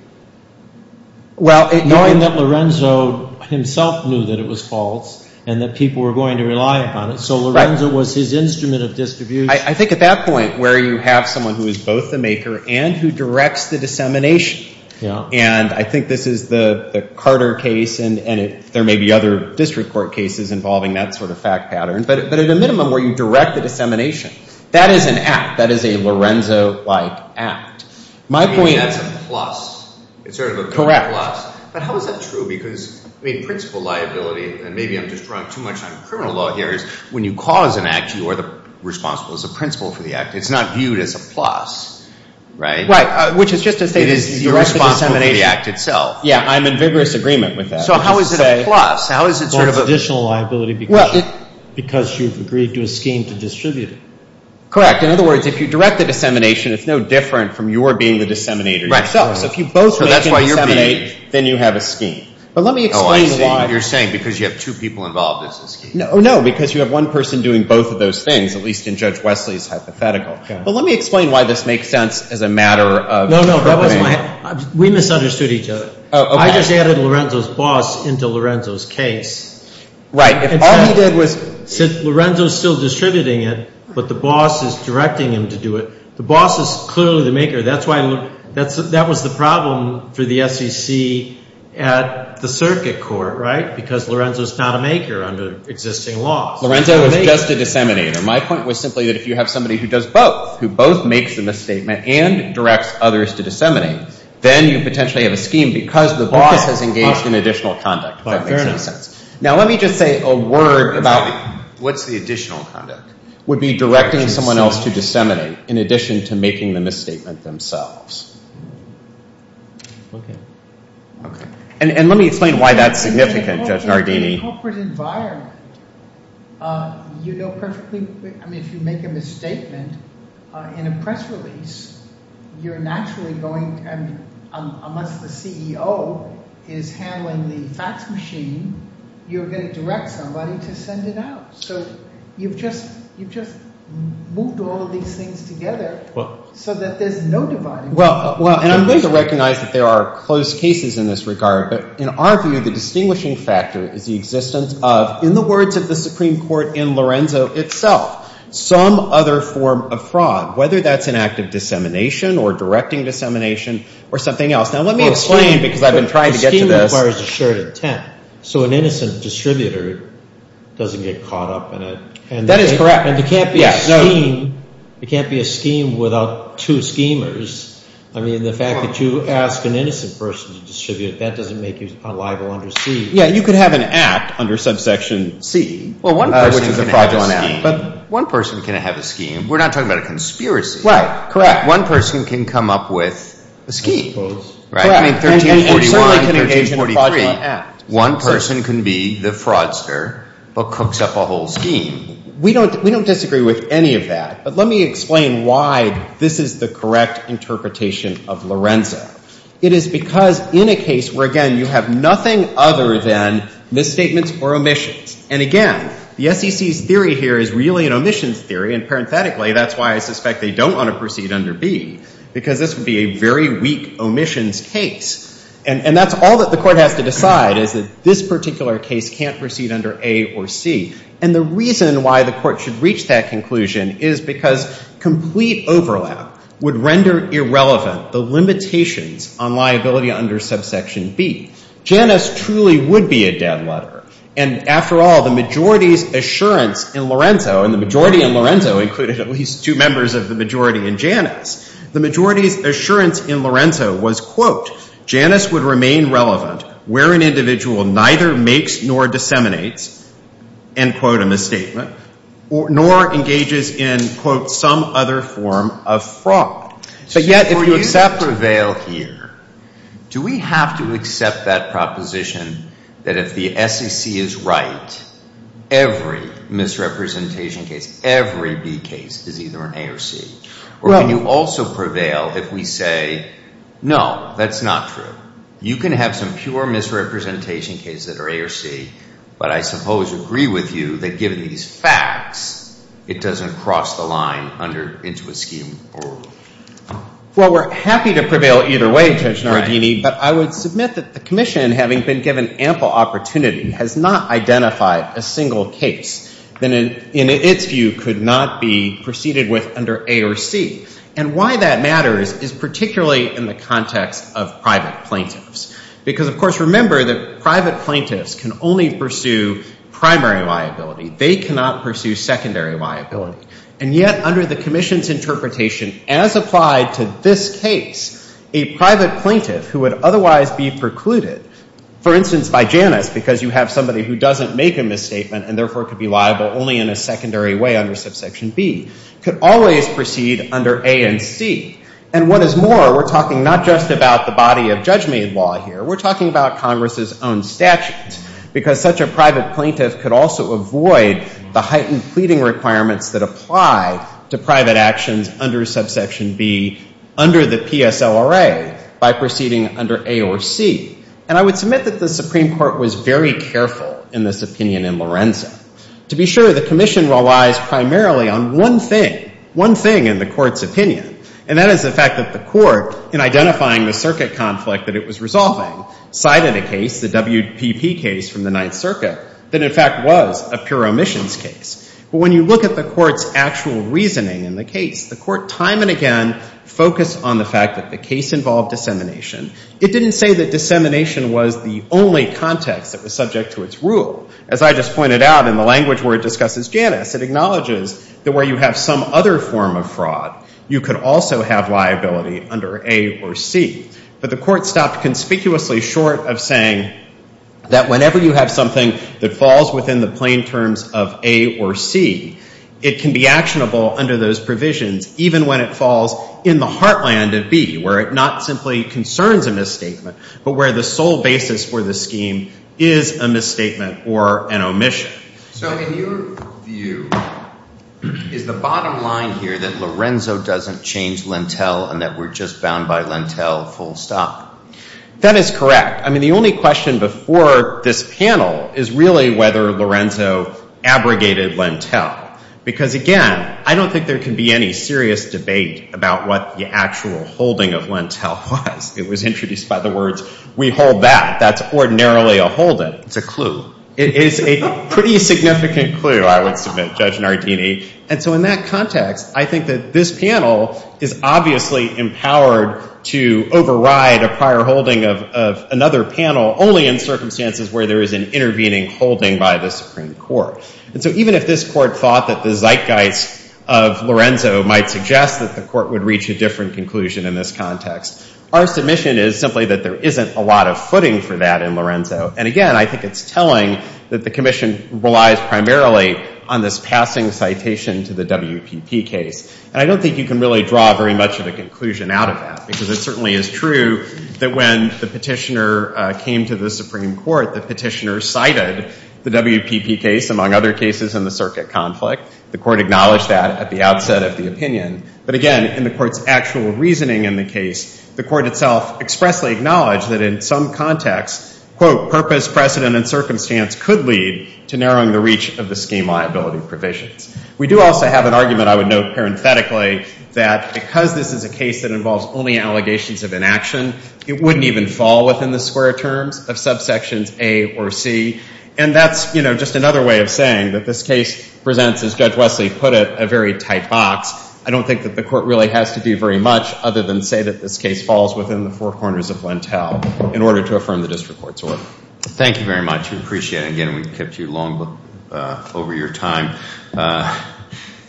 knowing that Lorenzo himself knew that it was false and that people were going to rely upon it. So Lorenzo was his instrument of distribution. I think at that point where you have someone who is both the maker and who directs the dissemination, and I think this is the Carter case and there may be other district court cases involving that sort of fact pattern, but at a minimum where you direct the dissemination, that is an act. That is a Lorenzo-like act. I mean, that's a plus. It's sort of a plus. Correct. But how is that true? Because, I mean, principal liability, and maybe I'm just running too much on criminal law here, is when you cause an act, you are responsible as a principal for the act. It's not viewed as a plus, right? Right, which is just to say that you're responsible for the act itself. Yeah, I'm in vigorous agreement with that. So how is it a plus? Well, it's additional liability because you've agreed to a scheme to distribute it. Correct. In other words, if you direct the dissemination, it's no different from your being the disseminator yourself. Right. So if you both are making a disseminate, then you have a scheme. But let me explain why. Oh, I see. You're saying because you have two people involved as a scheme. No, because you have one person doing both of those things, at least in Judge Wesley's hypothetical. But let me explain why this makes sense as a matter of recommending. No, no. We misunderstood each other. I just added Lorenzo's boss into Lorenzo's case. Right. Lorenzo's still distributing it, but the boss is directing him to do it. The boss is clearly the maker. That was the problem for the SEC at the circuit court, right, because Lorenzo's not a maker under existing laws. Lorenzo was just a disseminator. My point was simply that if you have somebody who does both, who both makes a misstatement and directs others to disseminate, then you potentially have a scheme because the boss has engaged in additional conduct. That makes sense. Now, let me just say a word about— What's the additional conduct? Would be directing someone else to disseminate in addition to making the misstatement themselves. Okay. And let me explain why that's significant, Judge Nardini. In a corporate environment, you know perfectly—I mean, if you make a misstatement in a press release, you're naturally going—unless the CEO is handling the fax machine, you're going to direct somebody to send it out. So you've just moved all of these things together so that there's no dividing. Well, and I'm going to recognize that there are close cases in this regard, but in our view, the distinguishing factor is the existence of, in the words of the Supreme Court in Lorenzo itself, some other form of fraud, whether that's an act of dissemination or directing dissemination or something else. Now, let me explain because I've been trying to get to this. Well, a scheme requires a shared intent, so an innocent distributor doesn't get caught up in it. That is correct. And there can't be a scheme without two schemers. I mean, the fact that you ask an innocent person to distribute, that doesn't make you a liable under C. Yeah, you could have an act under subsection C, which is a fraudulent act. But one person can have a scheme. We're not talking about a conspiracy. Right, correct. One person can come up with a scheme, right? Correct. I mean, 1341 and 1343, one person can be the fraudster but cooks up a whole scheme. We don't disagree with any of that, but let me explain why this is the correct interpretation of Lorenzo. It is because in a case where, again, you have nothing other than misstatements or omissions, and again, the SEC's theory here is really an omissions theory, and parenthetically, that's why I suspect they don't want to proceed under B, because this would be a very weak omissions case. And that's all that the court has to decide is that this particular case can't proceed under A or C. And the reason why the court should reach that conclusion is because complete overlap would render irrelevant the limitations on liability under subsection B. Janus truly would be a dead letter. And after all, the majority's assurance in Lorenzo, and the majority in Lorenzo included at least two members of the majority in Janus, the majority's assurance in Lorenzo was, quote, Janus would remain relevant where an individual neither makes nor disseminates, end quote, a misstatement, nor engages in, quote, some other form of fraud. But yet, if you accept prevail here, do we have to accept that proposition that if the SEC is right, every misrepresentation case, every B case is either an A or C? Or can you also prevail if we say, no, that's not true. You can have some pure misrepresentation case that are A or C, but I suppose agree with you that given these facts, it doesn't cross the line into a scheme. Well, we're happy to prevail either way, Judge Nardini, but I would submit that the commission, having been given ample opportunity, has not identified a single case that in its view could not be proceeded with under A or C. And why that matters is particularly in the context of private plaintiffs. Because, of course, remember that private plaintiffs can only pursue primary liability. They cannot pursue secondary liability. And yet, under the commission's interpretation, as applied to this case, a private plaintiff who would otherwise be precluded, for instance, by Janus because you have somebody who doesn't make a misstatement and therefore could be liable only in a secondary way under subsection B, could always proceed under A and C. And what is more, we're talking not just about the body of judge-made law here. We're talking about Congress's own statutes. Because such a private plaintiff could also avoid the heightened pleading requirements that apply to private actions under subsection B under the PSLRA by proceeding under A or C. And I would submit that the Supreme Court was very careful in this opinion in Lorenzo. To be sure, the commission relies primarily on one thing, one thing in the Court's opinion, and that is the fact that the Court, in identifying the circuit conflict that it was resolving, cited a case, the WPP case from the Ninth Circuit, that in fact was a pure omissions case. But when you look at the Court's actual reasoning in the case, the Court time and again focused on the fact that the case involved dissemination. It didn't say that dissemination was the only context that was subject to its rule. As I just pointed out in the language where it discusses Janus, it acknowledges that where you have some other form of fraud, you could also have liability under A or C. But the Court stopped conspicuously short of saying that whenever you have something that falls within the plain terms of A or C, it can be actionable under those provisions, even when it falls in the heartland of B, where it not simply concerns a misstatement, but where the sole basis for the scheme is a misstatement or an omission. So in your view, is the bottom line here that Lorenzo doesn't change Lentel and that we're just bound by Lentel full stop? That is correct. I mean, the only question before this panel is really whether Lorenzo abrogated Lentel. Because, again, I don't think there can be any serious debate about what the actual holding of Lentel was. It was introduced by the words, we hold that. That's ordinarily a holding. It's a clue. It is a pretty significant clue, I would submit, Judge Nardini. And so in that context, I think that this panel is obviously empowered to override a prior holding of another panel only in circumstances where there is an intervening holding by the Supreme Court. And so even if this Court thought that the zeitgeist of Lorenzo might suggest that the Court would reach a different conclusion in this context, our submission is simply that there isn't a lot of footing for that in Lorenzo. And, again, I think it's telling that the Commission relies primarily on this passing citation to the WPP case. And I don't think you can really draw very much of a conclusion out of that because it certainly is true that when the petitioner came to the Supreme Court, the petitioner cited the WPP case, among other cases in the circuit conflict. The Court acknowledged that at the outset of the opinion. But, again, in the Court's actual reasoning in the case, the Court itself expressly acknowledged that in some contexts, quote, purpose, precedent, and circumstance could lead to narrowing the reach of the scheme liability provisions. We do also have an argument, I would note parenthetically, that because this is a case that involves only allegations of inaction, it wouldn't even fall within the square terms of subsections A or C. And that's, you know, just another way of saying that this case presents, as Judge Wesley put it, a very tight box. I don't think that the Court really has to do very much other than say that this case falls within the four corners of Lentel in order to affirm the District Court's order. Thank you very much. We appreciate it. Again, we've kept you long over your time.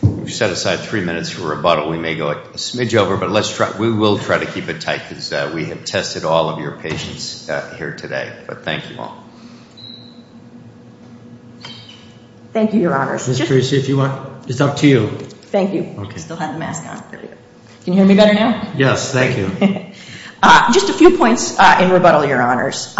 We've set aside three minutes for rebuttal. We may go a smidge over, but we will try to keep it tight because we have tested all of your patience here today. But thank you all. Thank you, Your Honors. Ms. Tracy, if you want, it's up to you. Thank you. I still have the mask on. Can you hear me better now? Yes, thank you. Just a few points in rebuttal, Your Honors.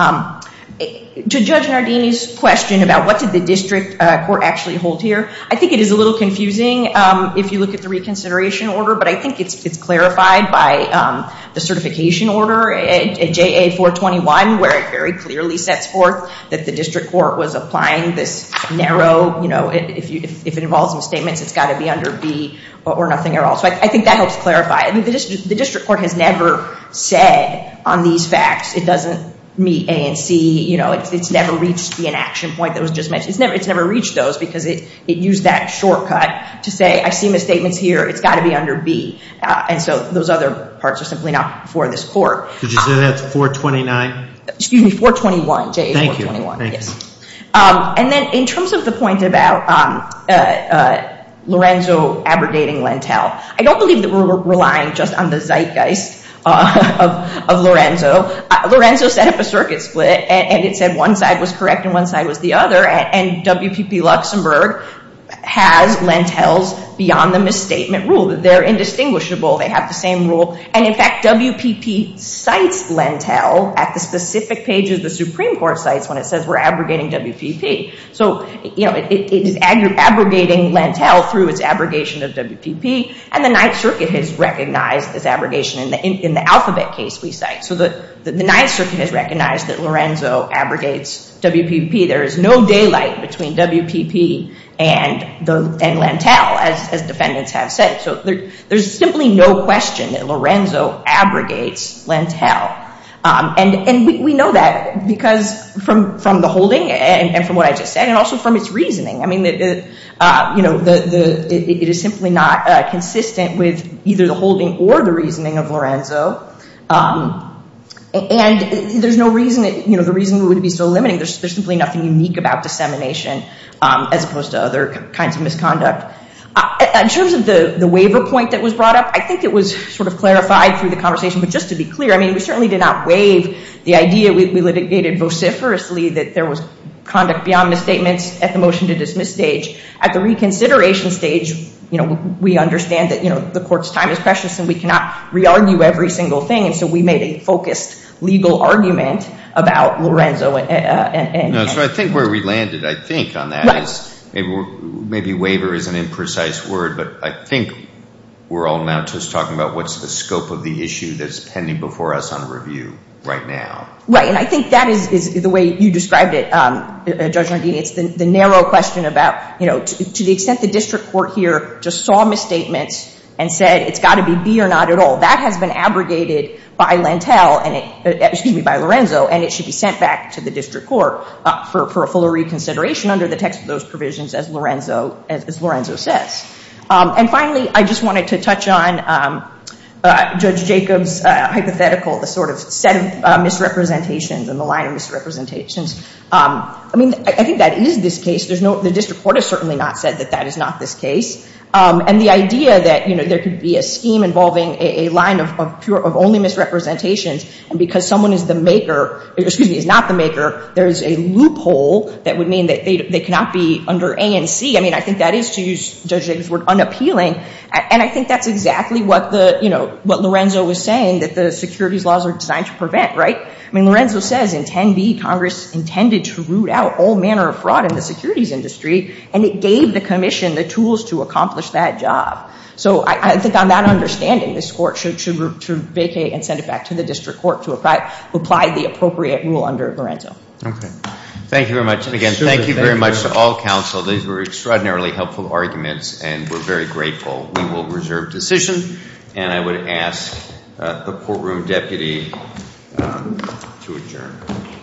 To Judge Nardini's question about what did the District Court actually hold here, I think it is a little confusing if you look at the reconsideration order, but I think it's clarified by the certification order at JA 421 where it very clearly sets forth that the District Court was applying this narrow, if it involves misstatements, it's got to be under B or nothing at all. So I think that helps clarify. The District Court has never said on these facts it doesn't meet A and C. It's never reached the inaction point that was just mentioned. It's never reached those because it used that shortcut to say, I see misstatements here. It's got to be under B. And so those other parts are simply not before this court. Did you say that's 429? Excuse me, 421, JA 421. Thank you. And then in terms of the point about Lorenzo abrogating Lentel, I don't believe that we're relying just on the zeitgeist of Lorenzo. Lorenzo set up a circuit split, and it said one side was correct and one side was the other, and WPP Luxembourg has Lentels beyond the misstatement rule. They're indistinguishable. They have the same rule. And, in fact, WPP cites Lentel at the specific pages the Supreme Court cites when it says we're abrogating WPP. So it is abrogating Lentel through its abrogation of WPP, and the Ninth Circuit has recognized this abrogation in the alphabet case we cite. So the Ninth Circuit has recognized that Lorenzo abrogates WPP. There is no daylight between WPP and Lentel, as defendants have said. So there's simply no question that Lorenzo abrogates Lentel. And we know that because from the holding and from what I just said, and also from its reasoning. I mean, it is simply not consistent with either the holding or the reasoning of Lorenzo. And there's no reason, you know, the reason we would be so limiting. There's simply nothing unique about dissemination as opposed to other kinds of misconduct. In terms of the waiver point that was brought up, I think it was sort of clarified through the conversation. But just to be clear, I mean, we certainly did not waive the idea. We litigated vociferously that there was conduct beyond misstatements at the motion to dismiss stage. At the reconsideration stage, you know, we understand that, you know, the court's time is precious and we cannot re-argue every single thing. And so we made a focused legal argument about Lorenzo and Lentel. No, so I think where we landed, I think, on that is maybe waiver is an imprecise word, but I think we're all now just talking about what's the scope of the issue that's pending before us on review right now. Right, and I think that is the way you described it, Judge Rendini. It's the narrow question about, you know, to the extent the district court here just saw misstatements and said it's got to be B or not at all. That has been abrogated by Lentel, excuse me, by Lorenzo, and it should be sent back to the district court for a fuller reconsideration under the text of those provisions as Lorenzo says. And finally, I just wanted to touch on Judge Jacob's hypothetical, the sort of set of misrepresentations and the line of misrepresentations. I mean, I think that is this case. The district court has certainly not said that that is not this case. And the idea that, you know, there could be a scheme involving a line of only misrepresentations and because someone is the maker, excuse me, is not the maker, there is a loophole that would mean that they cannot be under A and C. I mean, I think that is, to use Judge Jacob's word, unappealing. And I think that's exactly what the, you know, what Lorenzo was saying, that the securities laws are designed to prevent, right? I mean, Lorenzo says in 10B, Congress intended to root out all manner of fraud in the securities industry, and it gave the commission the tools to accomplish that job. So I think on that understanding, this court should vacate and send it back to the district court to apply the appropriate rule under Lorenzo. Okay. Thank you very much. And again, thank you very much to all counsel. These were extraordinarily helpful arguments, and we're very grateful. We will reserve decision, and I would ask the courtroom deputy to adjourn.